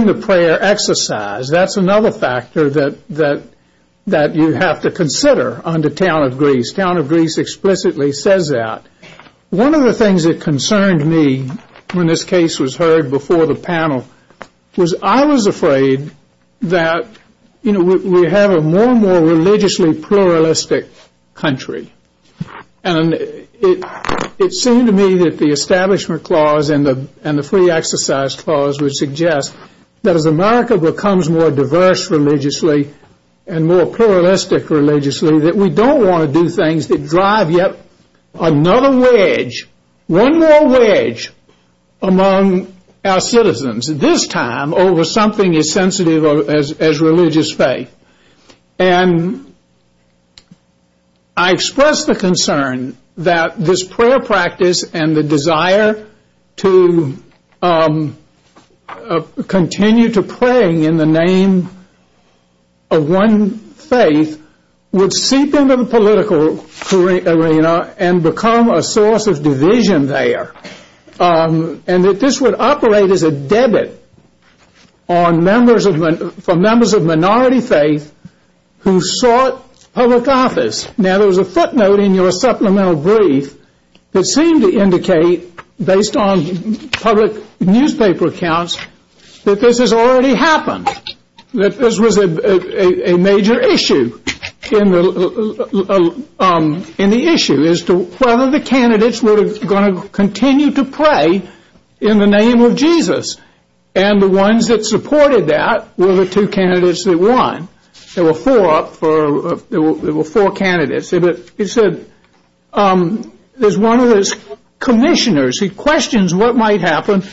the prayer exercise, that's another factor that you have to consider on the town of Greece. Town of Greece explicitly says that. One of the things that concerned me when this case was heard before the panel was I was afraid that, you know, we have a more and more religiously pluralistic country. And it seemed to me that the Establishment Clause and the Free Exercise Clause would suggest that as America becomes more diverse religiously and more pluralistic religiously, that we don't want to do things that drive yet another wedge, one more wedge among our citizens, this time over something as sensitive as religious faith. And I expressed the concern that this prayer practice and the desire to continue to pray in the name of one faith would seep into the political arena and become a source of division there, and that this would operate as a debit for members of minority faith who sought public office. Now, there was a footnote in your supplemental brief that seemed to indicate, based on public newspaper accounts, that this has already happened, that this was a major issue. And the issue is whether the candidates were going to continue to pray in the name of Jesus. And the ones that supported that were the two candidates that won. There were four candidates. There's one of the commissioners. He questions what might happen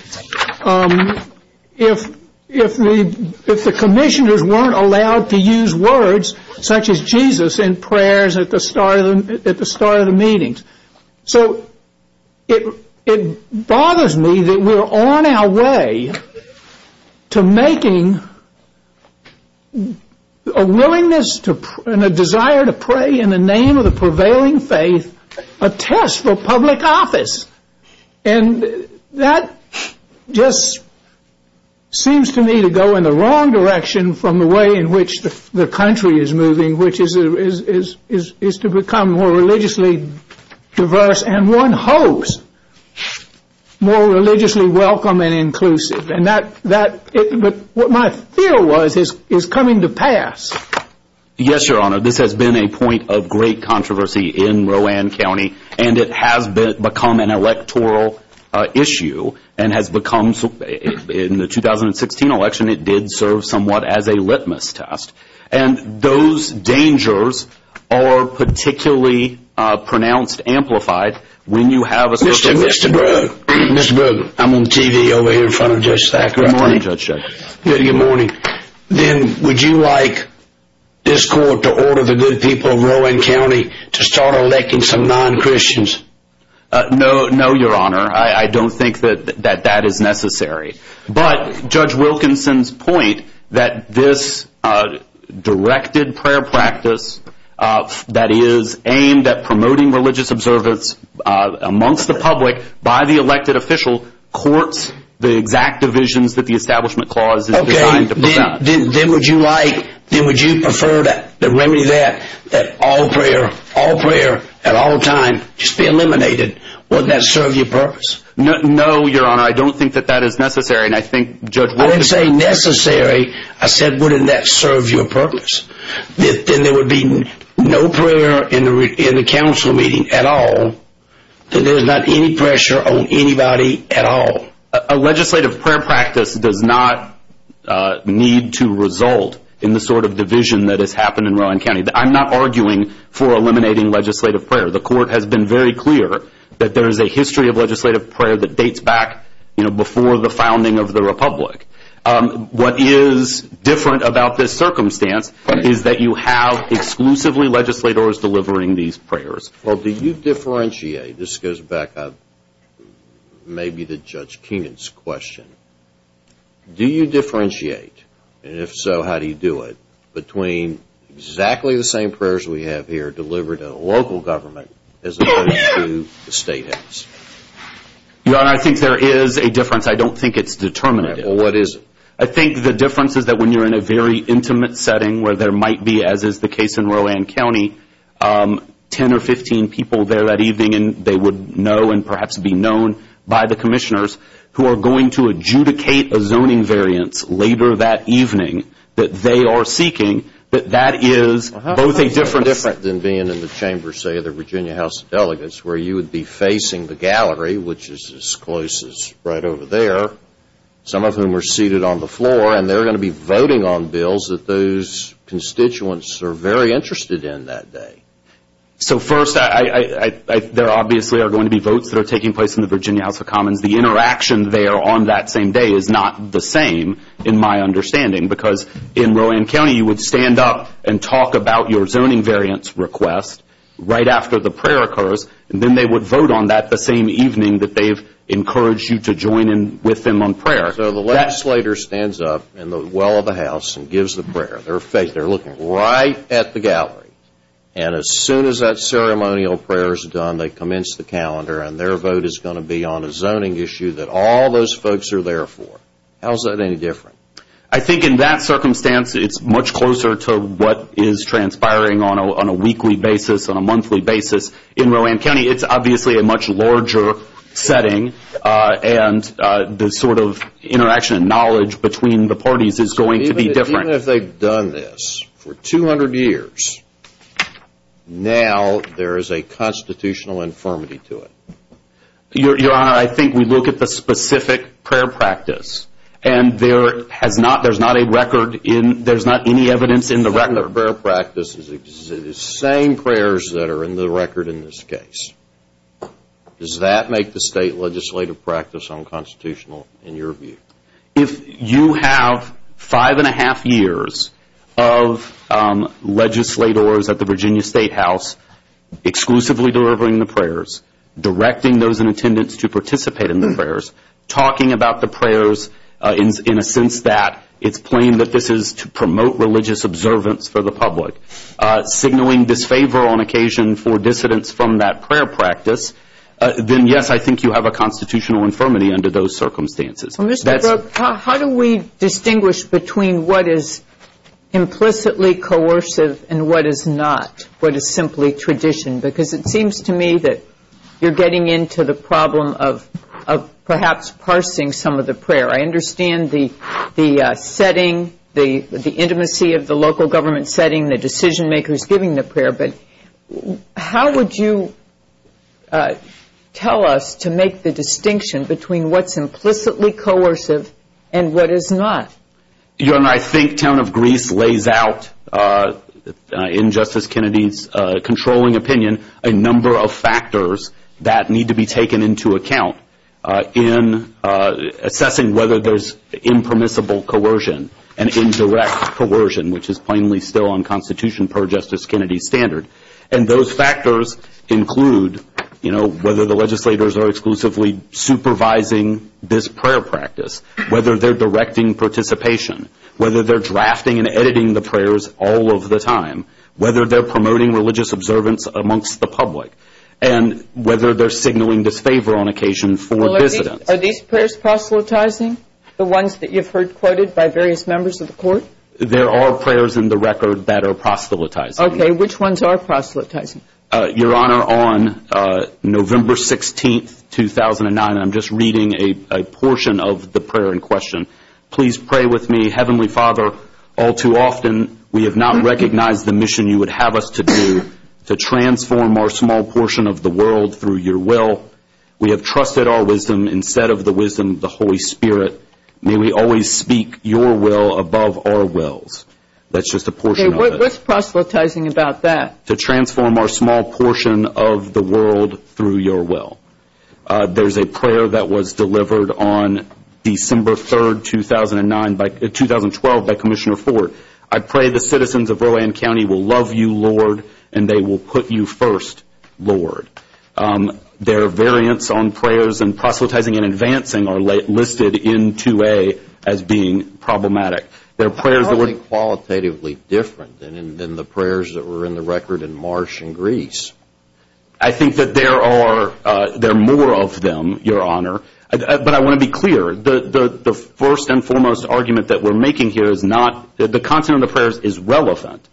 if the commissioners weren't allowed to use words such as Jesus in prayers at the start of the meetings. So it bothers me that we're on our way to making a willingness and a desire to pray in the name of the prevailing faith a test for public office. And that just seems to me to go in the wrong direction from the way in which the country is moving, which is to become more religiously diverse and one host, more religiously welcome and inclusive. And what my fear was is coming to pass. Yes, Your Honor. This has been a point of great controversy in Rowan County, and it has become an electoral issue and has become, in the 2016 election, it did serve somewhat as a litmus test. And those dangers are particularly pronounced, amplified when you have a system. Mr. Brogan, I'm on TV over here in front of Judge Stack. Good morning, Judge. Good morning. Then would you like this court to order the good people of Rowan County to start electing some non-Christians? No, Your Honor. I don't think that that is necessary. But Judge Wilkinson's point that this directed prayer practice that is aimed at promoting religious observance amongst the public by the elected official courts the exact divisions that the Establishment Clause is designed to put out. Okay. Then would you prefer the remedy to that, that all prayer, all prayer at all times just be eliminated? Wouldn't that serve your purpose? No, Your Honor. No, I don't think that that is necessary. And I think Judge Wilkinson— When I say necessary, I said wouldn't that serve your purpose? If there would be no prayer in the council meeting at all, then there's not any pressure on anybody at all. A legislative prayer practice does not need to result in the sort of division that has happened in Rowan County. I'm not arguing for eliminating legislative prayer. The Court has been very clear that there is a history of legislative prayer that dates back, you know, before the founding of the Republic. What is different about this circumstance is that you have exclusively legislators delivering these prayers. Well, do you differentiate—this goes back maybe to Judge Keenan's question— do you differentiate, and if so, how do you do it, between exactly the same prayers we have here delivered in a local government as opposed to the state has? Your Honor, I think there is a difference. I don't think it's determinative. Well, what is it? I think the difference is that when you're in a very intimate setting where there might be, as is the case in Rowan County, 10 or 15 people there that evening, they would know and perhaps be known by the commissioners who are going to adjudicate a zoning variant later that evening that they are seeking, that that is both a different— Well, how is it different than being in the chamber, say, of the Virginia House of Delegates, where you would be facing the gallery, which is as close as right over there, some of whom are seated on the floor, and they're going to be voting on bills that those constituents are very interested in that day. So first, there obviously are going to be votes that are taking place in the Virginia House for Commons. The interaction there on that same day is not the same, in my understanding, because in Rowan County you would stand up and talk about your zoning variance request right after the prayer occurs, and then they would vote on that the same evening that they've encouraged you to join in with them on prayer. So the legislator stands up in the well of the House and gives the prayer. They're looking right at the gallery. And as soon as that ceremonial prayer is done, they commence the calendar, and their vote is going to be on a zoning issue that all those folks are there for. How is that any different? I think in that circumstance it's much closer to what is transpiring on a weekly basis, on a monthly basis. In Rowan County, it's obviously a much larger setting, and the sort of interaction and knowledge between the parties is going to be different. Even if they've done this for 200 years, now there is a constitutional infirmity to it. Your Honor, I think we look at the specific prayer practice, and there's not any evidence in the record. The prayer practice is the same prayers that are in the record in this case. Does that make the state legislative practice unconstitutional in your view? If you have five and a half years of legislators at the Virginia State House exclusively delivering the prayers, directing those in attendance to participate in the prayers, talking about the prayers in a sense that it's claimed that this is to promote religious observance for the public, signaling disfavor on occasion for dissidents from that prayer practice, then yes, I think you have a constitutional infirmity under those circumstances. How do we distinguish between what is implicitly coercive and what is not, what is simply tradition? Because it seems to me that you're getting into the problem of perhaps parsing some of the prayer. I understand the setting, the intimacy of the local government setting, the decision makers giving the prayer, but how would you tell us to make the distinction between what's implicitly coercive and what is not? Your Honor, I think Count of Greece lays out in Justice Kennedy's controlling opinion a number of factors that need to be taken into account in assessing whether there's impermissible coercion and indirect coercion, which is plainly still unconstitutional per Justice Kennedy's standard, and those factors include whether the legislators are exclusively supervising this prayer practice, whether they're directing participation, whether they're drafting and editing the prayers all of the time, whether they're promoting religious observance amongst the public, and whether they're signaling disfavor on occasion for dissidents. Are these prayers proselytizing, the ones that you've heard quoted by various members of the Court? There are prayers in the record that are proselytizing. Okay. Which ones are proselytizing? Your Honor, on November 16, 2009, I'm just reading a portion of the prayer in question. Please pray with me. Heavenly Father, all too often we have not recognized the mission you would have us to do to transform our small portion of the world through your will. We have trusted our wisdom instead of the wisdom of the Holy Spirit. May we always speak your will above our wills. That's just a portion of it. Okay. What's proselytizing about that? To transform our small portion of the world through your will. There's a prayer that was delivered on December 3, 2012, by Commissioner Ford. I pray the citizens of Rowan County will love you, Lord, and they will put you first, Lord. Their variants on prayers and proselytizing and advancing are listed in 2A as being problematic. How are they qualitatively different than the prayers that were in the record in Marsh and Greece? I think that there are more of them, Your Honor, but I want to be clear. The first and foremost argument that we're making here is not that the content of the prayers is relevant,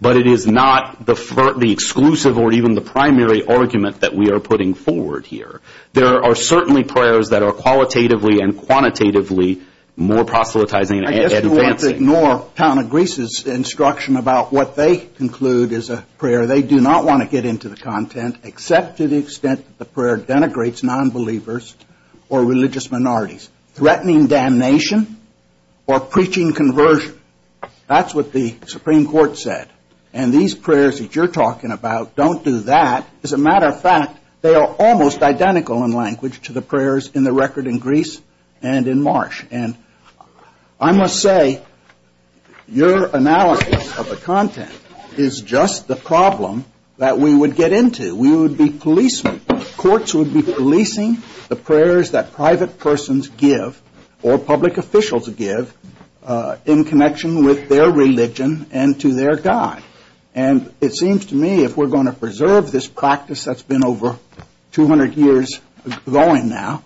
but it is not the exclusive or even the primary argument that we are putting forward here. There are certainly prayers that are qualitatively and quantitatively more proselytizing and advancing. I guess we have to ignore Town of Greece's instruction about what they conclude is a prayer. They do not want to get into the content except to the extent that the prayer denigrates nonbelievers or religious minorities, threatening damnation or preaching conversion. That's what the Supreme Court said. And these prayers that you're talking about don't do that. As a matter of fact, they are almost identical in language to the prayers in the record in Greece and in Marsh. And I must say, your analysis of the content is just the problem that we would get into. We would be policemen. Courts would be policing the prayers that private persons give or public officials give in connection with their religion and to their God. And it seems to me if we're going to preserve this practice that's been over 200 years going now,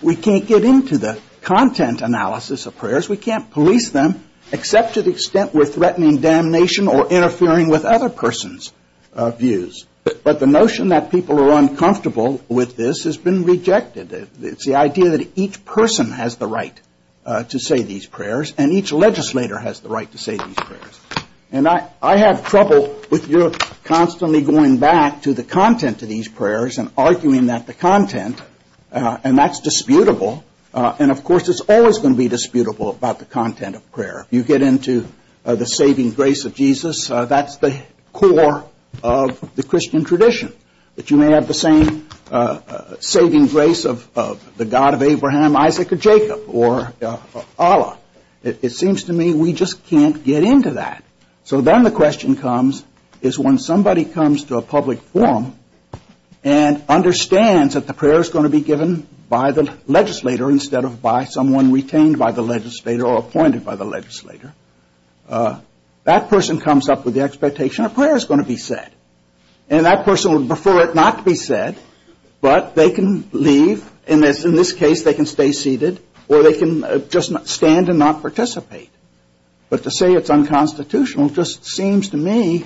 we can't get into the content analysis of prayers. We can't police them except to the extent we're threatening damnation or interfering with other persons' views. But the notion that people are uncomfortable with this has been rejected. It's the idea that each person has the right to say these prayers, and each legislator has the right to say these prayers. And I have trouble if you're constantly going back to the content of these prayers and arguing that the content, and that's disputable, and of course it's always going to be disputable about the content of prayer. You get into the saving grace of Jesus. That's the core of the Christian tradition, that you may have the same saving grace of the God of Abraham, Isaac, or Jacob or Allah. It seems to me we just can't get into that. So then the question comes is when somebody comes to a public forum and understands that the prayer is going to be given by the legislator instead of by someone retained by the legislator or appointed by the legislator, that person comes up with the expectation a prayer is going to be said. And that person would prefer it not to be said, but they can leave, and in this case they can stay seated, or they can just stand and not participate. But to say it's unconstitutional just seems to me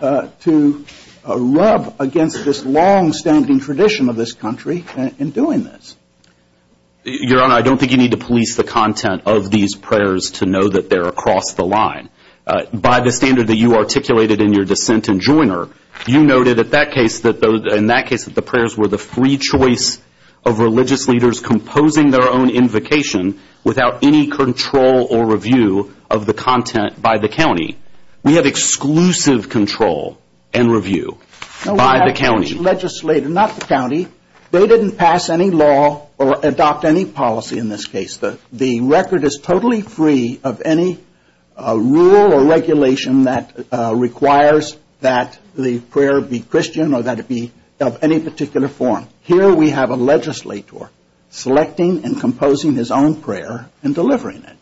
to rub against this longstanding tradition of this country in doing this. Your Honor, I don't think you need to police the content of these prayers to know that they're across the line. By the standard that you articulated in your dissent and joiner, you noted in that case that the prayers were the free choice of religious leaders composing their own invocation without any control or review of the content by the county. We have exclusive control and review by the county. No, by the county legislator, not the county. They didn't pass any law or adopt any policy in this case. The record is totally free of any rule or regulation that requires that the prayer be Christian or that it be of any particular form. Here we have a legislator selecting and composing his own prayer and delivering it.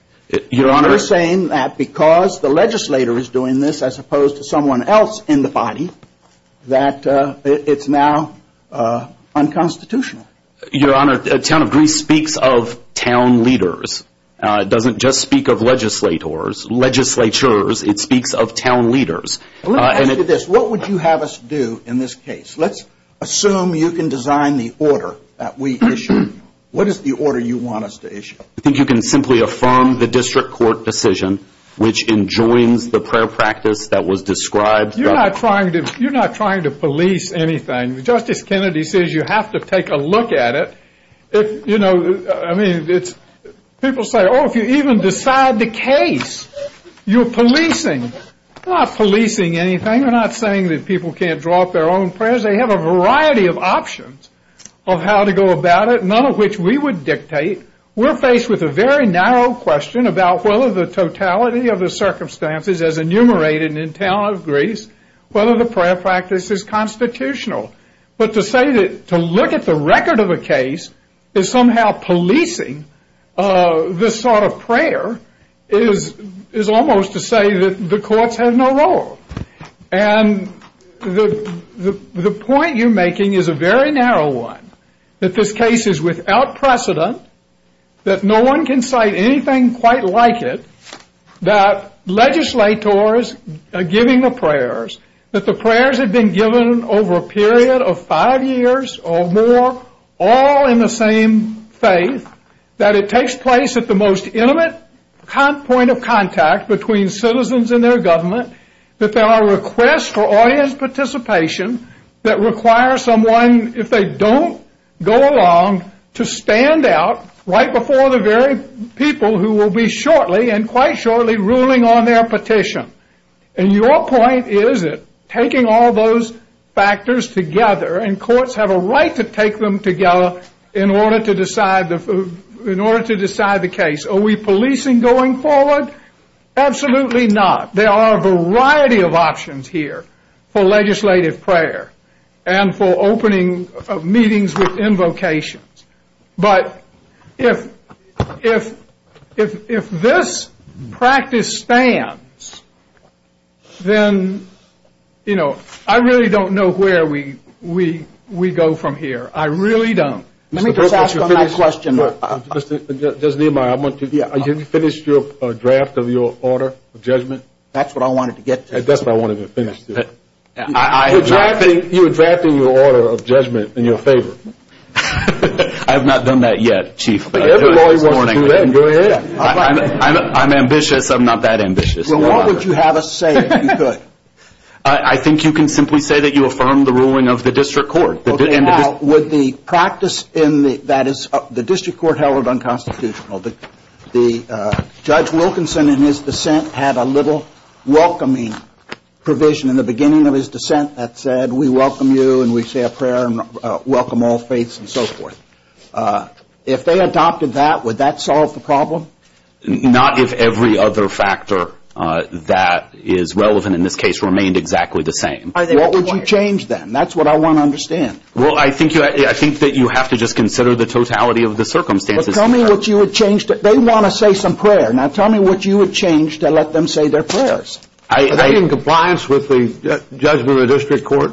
You're saying that because the legislator is doing this as opposed to someone else in the body, that it's now unconstitutional. Your Honor, the town of Greece speaks of town leaders. It doesn't just speak of legislators, legislatures. It speaks of town leaders. Let me ask you this. What would you have us do in this case? Let's assume you can design the order that we issue. What is the order you want us to issue? I think you can simply affirm the district court decision, which enjoins the prayer practice that was described. You're not trying to police anything. Justice Kennedy says you have to take a look at it. People say, oh, if you even decide the case, you're policing. We're not policing anything. We're not saying that people can't draw up their own prayers. They have a variety of options of how to go about it, none of which we would dictate. We're faced with a very narrow question about whether the totality of the circumstances as enumerated in the town of Greece, whether the prayer practice is constitutional. But to say that to look at the record of a case is somehow policing this sort of prayer is almost to say that the courts have no role. And the point you're making is a very narrow one, that this case is without precedent, that no one can cite anything quite like it, that legislators are giving the prayers, that the prayers have been given over a period of five years or more, all in the same faith, that it takes place at the most intimate point of contact between citizens and their government, that there are requests for audience participation that require someone, if they don't go along, to stand out right before the very people who will be shortly, and quite shortly, ruling on their petition. And your point is that taking all those factors together, and courts have a right to take them together in order to decide the case. Are we policing going forward? Absolutely not. There are a variety of options here for legislative prayer and for opening meetings with invocations. But if this practice spans, then, you know, I really don't know where we go from here. I really don't. Let me just ask one last question. Just a reminder. Have you finished your draft of your order of judgment? That's what I wanted to get to. I guess I wanted to finish that. You were drafting your order of judgment in your favor. I have not done that yet, Chief. Everybody wants to do it. I'm ambitious. I'm not that ambitious. Well, what would you have us say if you could? I think you can simply say that you affirm the ruling of the district court. Okay. Now, would the practice that is the district court held unconstitutional, the Judge Wilkinson, in his dissent, had a little welcoming provision in the beginning of his dissent that said, we welcome you and we say a prayer and welcome all faiths and so forth. If they adopted that, would that solve the problem? Not if every other factor that is relevant in this case remained exactly the same. What would you change then? That's what I want to understand. Well, I think that you have to just consider the totality of the circumstances. Tell me what you would change. They want to say some prayer. Now, tell me what you would change to let them say their prayers. Are they in compliance with the judgment of the district court?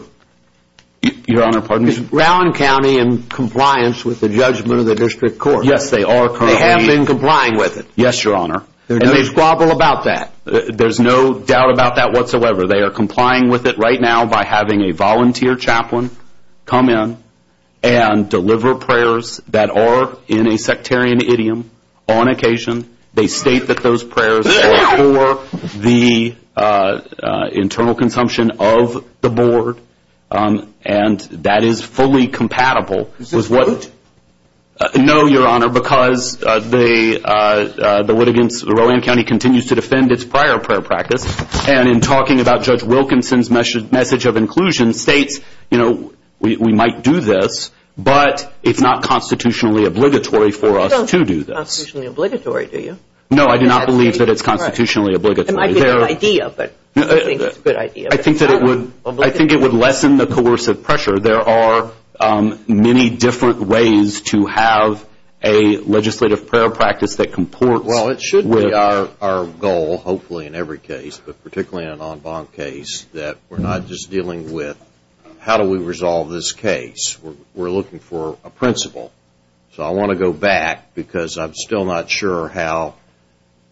Your Honor, pardon me? Is Brown County in compliance with the judgment of the district court? Yes, they are currently. They have been complying with it? Yes, Your Honor. And there's trouble about that. There's no doubt about that whatsoever. They are complying with it right now by having a volunteer chaplain come in and deliver prayers that are in a sectarian idiom on occasion. They state that those prayers are for the internal consumption of the board, and that is fully compatible with what is. No, Your Honor, because the litigants, Rowan County continues to defend its prior prayer practice, and in talking about Judge Wilkinson's message of inclusion states, you know, we might do this, but it's not constitutionally obligatory for us to do this. It's not constitutionally obligatory, do you? No, I do not believe that it's constitutionally obligatory. It might be a good idea. I think it would lessen the coercive pressure. There are many different ways to have a legislative prayer practice that comport with. It's really our goal, hopefully in every case, but particularly in an en banc case, that we're not just dealing with how do we resolve this case. We're looking for a principle. So I want to go back because I'm still not sure how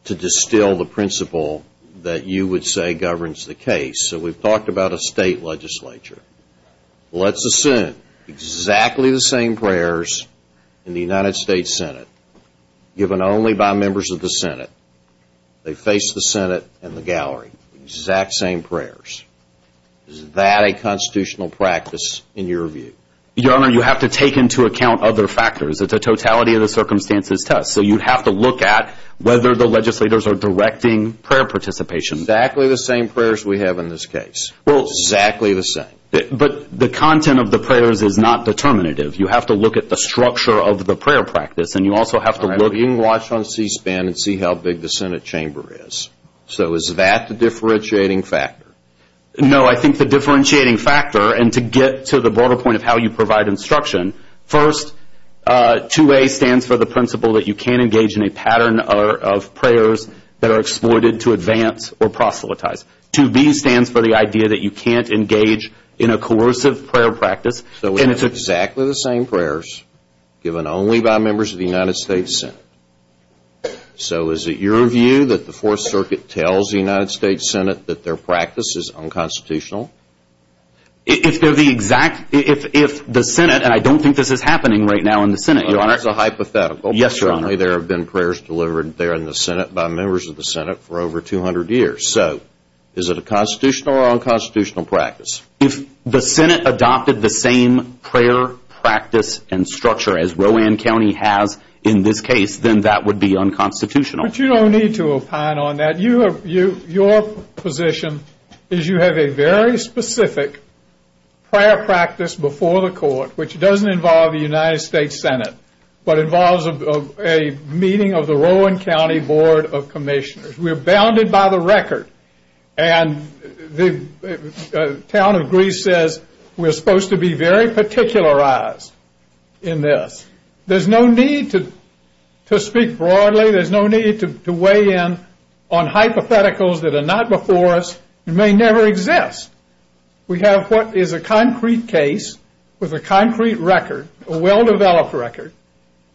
to distill the principle that you would say governs the case. So we've talked about a state legislature. Let's assume exactly the same prayers in the United States Senate, given only by members of the Senate. They face the Senate and the gallery, exact same prayers. Is that a constitutional practice in your view? Your Honor, you have to take into account other factors. The totality of the circumstance is tough, so you have to look at whether the legislators are directing prayer participation. Exactly the same prayers we have in this case. Well, exactly the same. But the content of the prayers is not determinative. You have to look at the structure of the prayer practice, and you also have to look. You can watch on C-SPAN and see how big the Senate chamber is. So is that the differentiating factor? No, I think the differentiating factor, and to get to the broader point of how you provide instruction, first, 2A stands for the principle that you can't engage in a pattern of prayers that are exploited to advance or proselytize. 2B stands for the idea that you can't engage in a coercive prayer practice. So it's exactly the same prayers given only by members of the United States Senate. So is it your view that the Fourth Circuit tells the United States Senate that their practice is unconstitutional? If the Senate, and I don't think this is happening right now in the Senate. Your Honor, it's a hypothetical. Yes, Your Honor. Apparently there have been prayers delivered there in the Senate by members of the Senate for over 200 years. So is it a constitutional or unconstitutional practice? If the Senate adopted the same prayer practice and structure as Rowan County has in this case, then that would be unconstitutional. But you don't need to opine on that. Your position is you have a very specific prayer practice before the court, which doesn't involve the United States Senate, but involves a meeting of the Rowan County Board of Commissioners. We're bounded by the record. And the town of Greece says we're supposed to be very particularized in this. There's no need to speak broadly. There's no need to weigh in on hypotheticals that are not before us and may never exist. We have what is a concrete case with a concrete record, a well-developed record,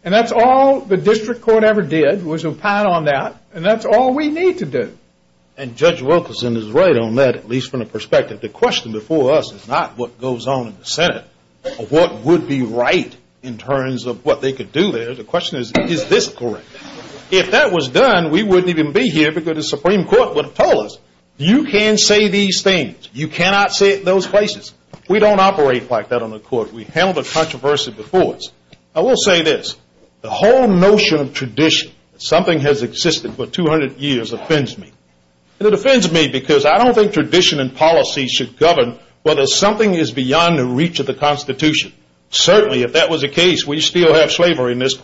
and that's all the district court ever did was opine on that, and that's all we need to do. And Judge Wilkerson is right on that, at least from the perspective. The question before us is not what goes on in the Senate or what would be right in terms of what they could do there. The question is, is this correct? If that was done, we wouldn't even be here because the Supreme Court would have told us, you can say these things. You cannot say it in those places. We don't operate like that on the court. We've handled a controversy before us. I will say this. The whole notion of tradition, something has existed for 200 years, offends me. It offends me because I don't think tradition and policy should govern whether something is beyond the reach of the Constitution. Certainly, if that was the case, we still have slavery in this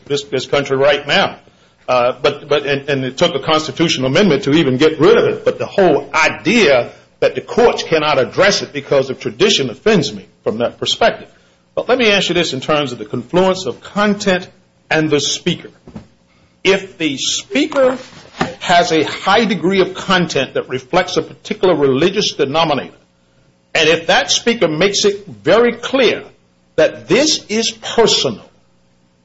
country right now. And it took a constitutional amendment to even get rid of it, but the whole idea that the courts cannot address it because of tradition offends me from that perspective. But let me answer this in terms of the confluence of content and the speaker. If the speaker has a high degree of content that reflects a particular religious denominator, and if that speaker makes it very clear that this is personal,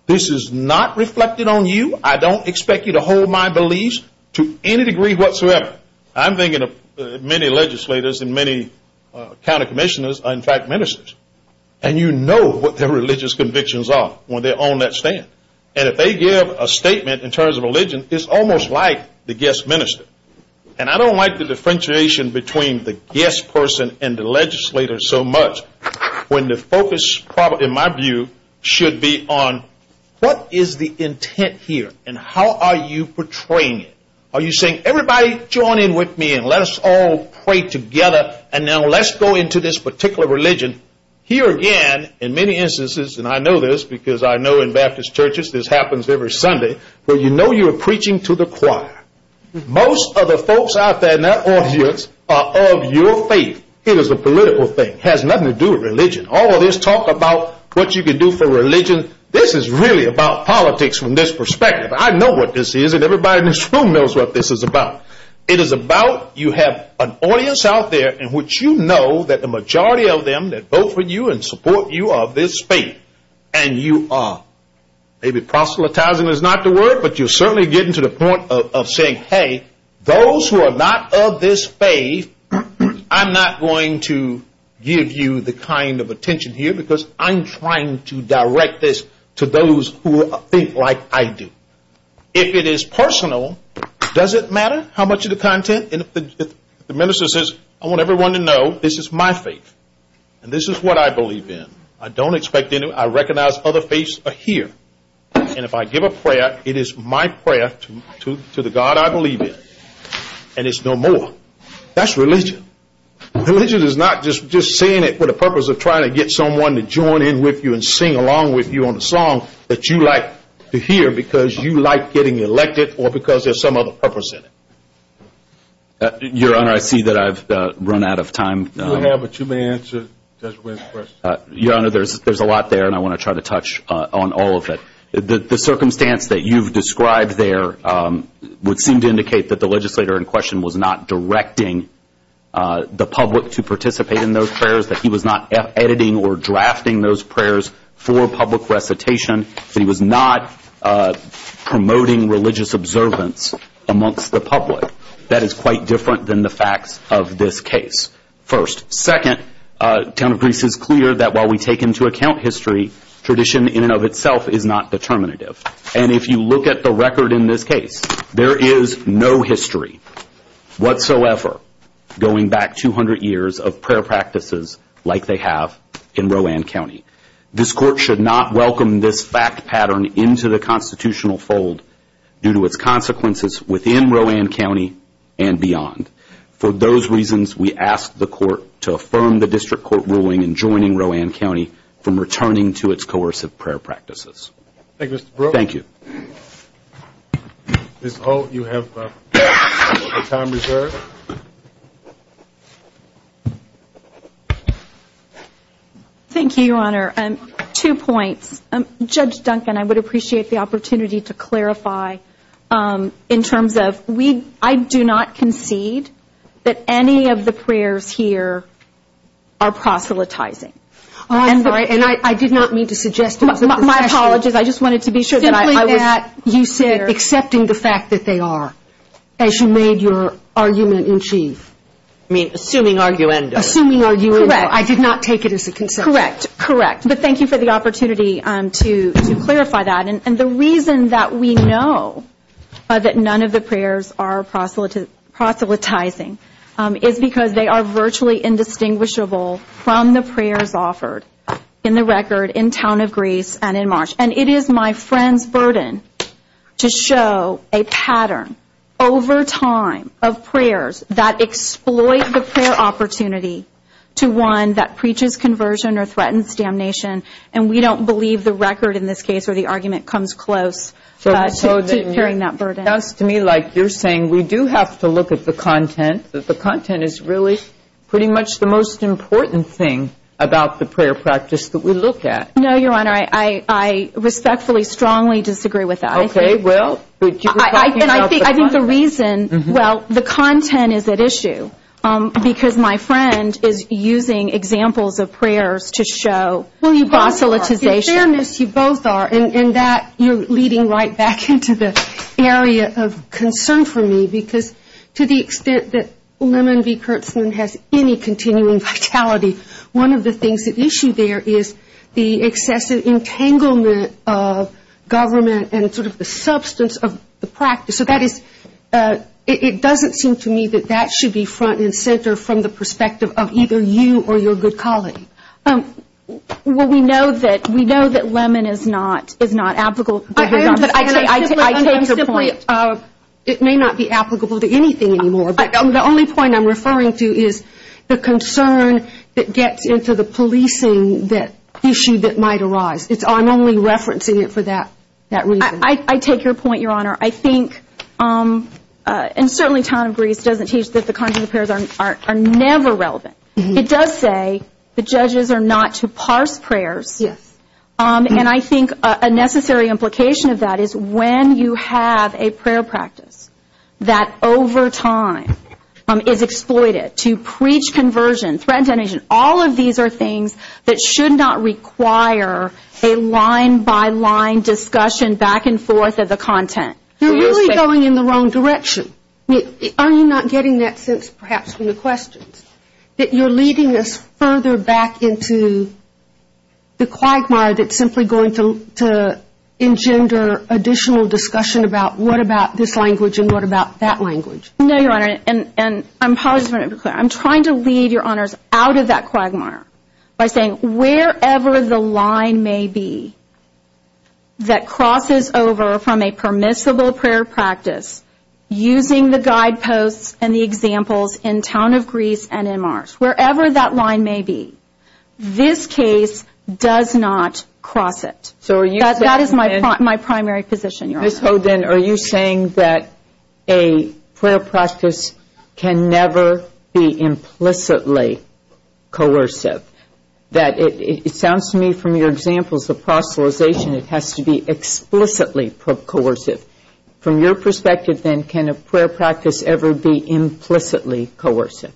this is not reflected on you, I don't expect you to hold my beliefs to any degree whatsoever. I'm thinking of many legislators and many county commissioners are in fact ministers. And you know what their religious convictions are when they're on that stand. And if they give a statement in terms of religion, it's almost like the guest minister. And I don't like the differentiation between the guest person and the legislator so much when the focus, in my view, should be on what is the intent here and how are you portraying it. Are you saying, everybody join in with me and let us all pray together, and now let's go into this particular religion. Here again, in many instances, and I know this because I know in Baptist churches this happens every Sunday, but you know you're preaching to the choir. Most of the folks out there in that audience are of your faith. It is a political thing. It has nothing to do with religion. All of this talk about what you can do for religion. This is really about politics from this perspective. I know what this is, and everybody in this room knows what this is about. It is about you have an audience out there in which you know that the majority of them that vote for you and support you are of this faith, and you are. Maybe proselytizing is not the word, but you're certainly getting to the point of saying, hey, those who are not of this faith, I'm not going to give you the kind of attention here because I'm trying to direct this to those who are of faith like I do. If it is personal, does it matter how much of the content? If the minister says, I want everyone to know this is my faith and this is what I believe in, I don't expect anything, I recognize other faiths are here, and if I give a prayer, it is my prayer to the God I believe in, and it's no more. That's religion. Religion is not just saying it for the purpose of trying to get someone to join in with you and sing along with you on a song that you like to hear because you like getting elected or because there's some other purpose in it. Your Honor, I see that I've run out of time. No, but you may answer Judge Wynn's question. Your Honor, there's a lot there, and I want to try to touch on all of it. The circumstance that you've described there would seem to indicate that the legislator in question was not directing the public to participate in those prayers, that he was not editing or drafting those prayers for public recitation, that he was not promoting religious observance amongst the public. That is quite different than the facts of this case, first. Second, the count of briefs is clear that while we take into account history, tradition in and of itself is not determinative. And if you look at the record in this case, there is no history whatsoever going back 200 years of prayer practices like they have in Rowan County. This court should not welcome this fact pattern into the constitutional fold due to its consequences within Rowan County and beyond. For those reasons, we ask the court to affirm the district court ruling in joining Rowan County from returning to its coercive prayer practices. Thank you, Mr. Brooks. Thank you. Ms. Holt, you have your time reserved. Thank you, Your Honor. Two points. Judge Duncan, I would appreciate the opportunity to clarify in terms of I do not concede that any of the prayers here are proselytizing. And I did not mean to suggest that. My apologies. I just wanted to be sure that I was clear. You said accepting the fact that they are, as you made your argument in chief. Assuming arguendo. Assuming arguendo. Correct. I did not take it as a concern. Correct, correct. But thank you for the opportunity to clarify that. And the reason that we know that none of the prayers are proselytizing is because they are virtually indistinguishable from the prayers offered in the record in Town of Greece and in March. And it is my friend's burden to show a pattern over time of prayers that exploit the prayer opportunity to one that preaches conversion or threatens damnation. And we don't believe the record in this case or the argument comes close to securing that burden. It sounds to me like you're saying we do have to look at the content, but the content is really pretty much the most important thing about the prayer practice that we look at. No, Your Honor. I respectfully, strongly disagree with that. Okay. Well, we keep talking about the content. Well, the content is at issue because my friend is using examples of prayers to show proselytization. Well, you both are. You both are. And that you're leading right back into the area of concern for me, because to the extent that Lemon v. Kurtzman has any continuing vitality, one of the things at issue there is the excessive entanglement of government and sort of the substance of the practice. So it doesn't seem to me that that should be front and center from the perspective of either you or your good colleague. Well, we know that Lemon is not applicable to him. I take your point. It may not be applicable to anything anymore. The only point I'm referring to is the concern that gets into the policing issue that might arise. I'm only referencing it for that reason. I take your point, Your Honor. I think, and certainly Tom Greaves doesn't teach that the content of prayers are never relevant. It does say the judges are not to parse prayers. Yes. And I think a necessary implication of that is when you have a prayer practice that over time is exploited to preach conversion, spread tension, all of these are things that should not require a line-by-line discussion back and forth of the content. You're really going in the wrong direction. Are you not getting that sense perhaps from the question, that you're leading us further back into the quagmire that's simply going to engender additional discussion about what about this language and what about that language? No, Your Honor, and I'm trying to lead Your Honors out of that quagmire by saying wherever the line may be that crosses over from a permissible prayer practice using the guideposts and the examples in Town of Greaves and in Mars, wherever that line may be, this case does not cross it. That is my primary position, Your Honor. Ms. Hogan, are you saying that a prayer practice can never be implicitly coercive? It sounds to me from your examples of proselytization it has to be explicitly coercive. From your perspective, then, can a prayer practice ever be implicitly coercive?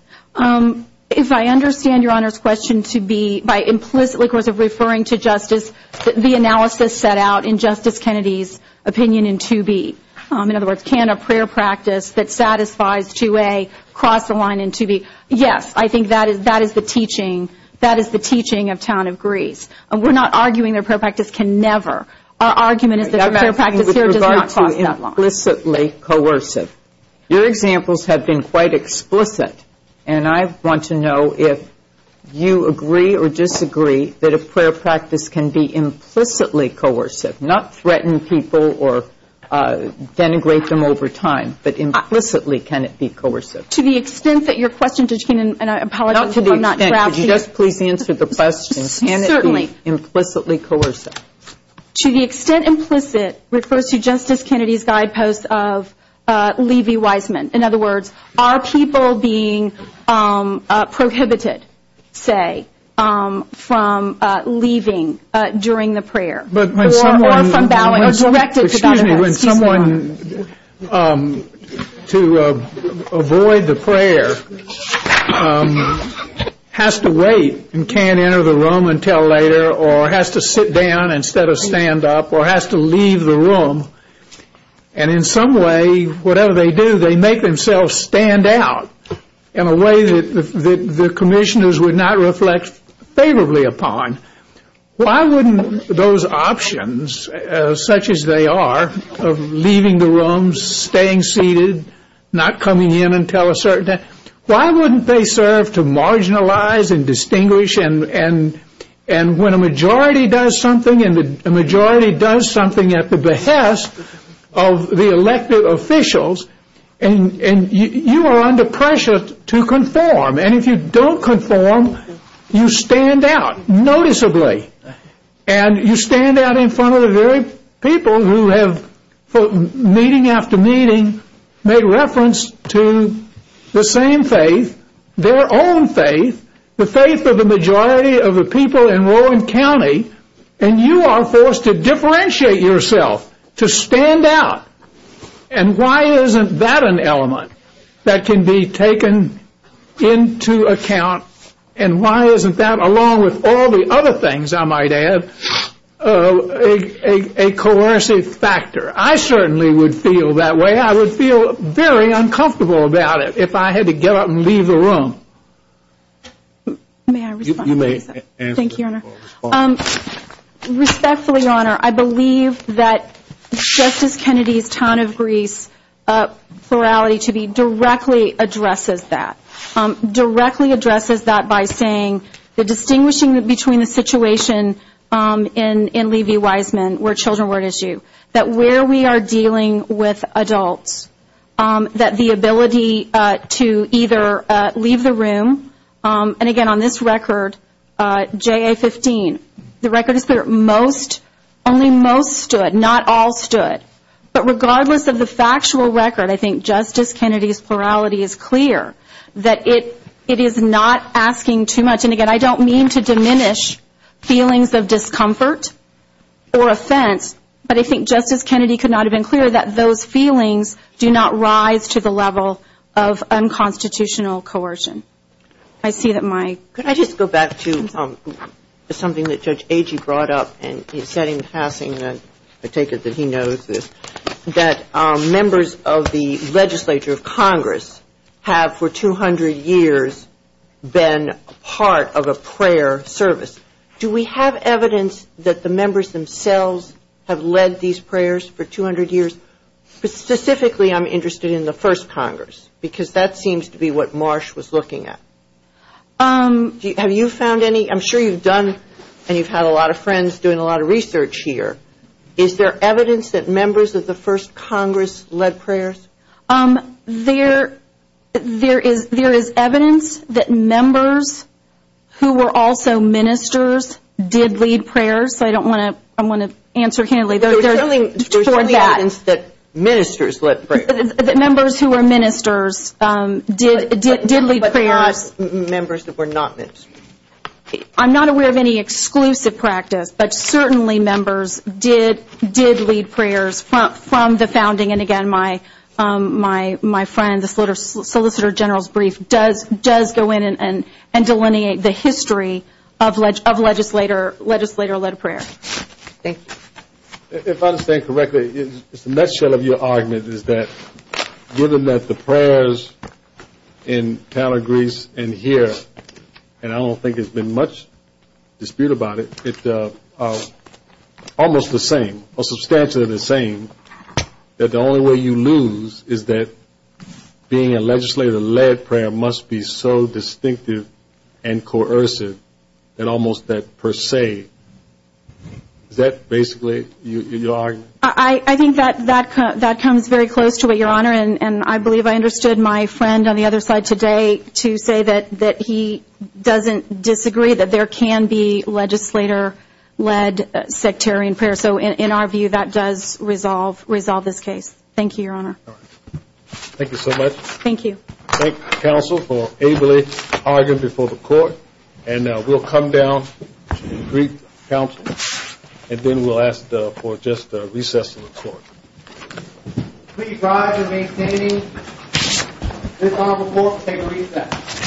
If I understand Your Honor's question to be by implicitly referring to justice, the analysis set out in Justice Kennedy's opinion in 2B, in other words, can a prayer practice that satisfies 2A cross the line in 2B? Yes, I think that is the teaching. That is the teaching of Town of Greaves. We're not arguing that a prayer practice can never. Our argument is that a prayer practice does not cross that line. In regards to implicitly coercive, your examples have been quite explicit, and I want to know if you agree or disagree that a prayer practice can be implicitly coercive, not threaten people or denigrate them over time, but implicitly can it be coercive? To the extent that your question, Judge Keenan, and I apologize if I'm not tracking. Could you just please answer the question? Can it be implicitly coercive? To the extent implicit refers to Justice Kennedy's guideposts of Levi Wiseman. In other words, are people being prohibited, say, from leaving during the prayer? Excuse me, when someone, to avoid the prayer, has to wait and can't enter the room until later or has to sit down instead of stand up or has to leave the room, and in some way, whatever they do, they make themselves stand out in a way that the commissioners would not reflect favorably upon, why wouldn't those options, such as they are, of leaving the room, staying seated, not coming in until a certain time, why wouldn't they serve to marginalize and distinguish? And when a majority does something, and a majority does something at the behest of the elected officials, you are under pressure to conform. And if you don't conform, you stand out noticeably. And you stand out in front of the very people who have, meeting after meeting, made reference to the same faith, their own faith, the faith of the majority of the people in Rowan County, and you are forced to differentiate yourself, to stand out. And why isn't that an element that can be taken into account, and why isn't that, along with all the other things I might add, a coercive factor? I certainly would feel that way. I would feel very uncomfortable about it if I had to get up and leave the room. May I respond? You may answer. Thank you, Your Honor. Respectfully, Your Honor, I believe that Justice Kennedy's ton of grief morality to me directly addresses that, directly addresses that by saying the distinguishing between the situation in Levy-Wiseman, where children were an issue, that where we are dealing with adults, that the ability to either leave the room, and, again, on this record, JA-15, the record is that only most stood, not all stood. But regardless of the factual record, I think Justice Kennedy's morality is clear, that it is not asking too much. And, again, I don't mean to diminish feelings of discomfort or offense, but I think Justice Kennedy could not have been clearer that those feelings do not rise to the level of unconstitutional coercion. I see that my – Could I just go back to something that Judge Agee brought up, and he's getting the passing, and I take it that he knows this, that members of the legislature of Congress have for 200 years been part of a prayer service. Do we have evidence that the members themselves have led these prayers for 200 years? Specifically, I'm interested in the first Congress, because that seems to be what Marsh was looking at. Have you found any? I'm sure you've done, and you've had a lot of friends doing a lot of research here. Is there evidence that members of the first Congress led prayers? There is evidence that members who were also ministers did lead prayers. I don't want to – I'm going to answer candidly. There's evidence that ministers led prayers. Members who were ministers did lead prayers. But there are members that were not ministers. I'm not aware of any exclusive practice, but certainly members did lead prayers from the founding, and again, my friend, the Solicitor General's brief does go in and delineate the history of legislator-led prayers. Okay. If I understand correctly, the nutshell of your argument is that given that the prayers in Tallagrace and here, and I don't think there's been much dispute about it, it's almost the same, or substantially the same, that the only way you lose is that being a legislator-led prayer must be so distinctive and coercive and almost that per se. Is that basically your argument? I think that comes very close to it, Your Honor, and I believe I understood my friend on the other side today to say that he doesn't disagree, that there can be legislator-led sectarian prayers. So in our view, that does resolve this case. Thank you so much. Thank you. Thank you, counsel, for ably arguing before the court, and we'll come down and greet counsel, and then we'll ask for just a recess from the court. Please rise in maintaining this honorable court to take a recess.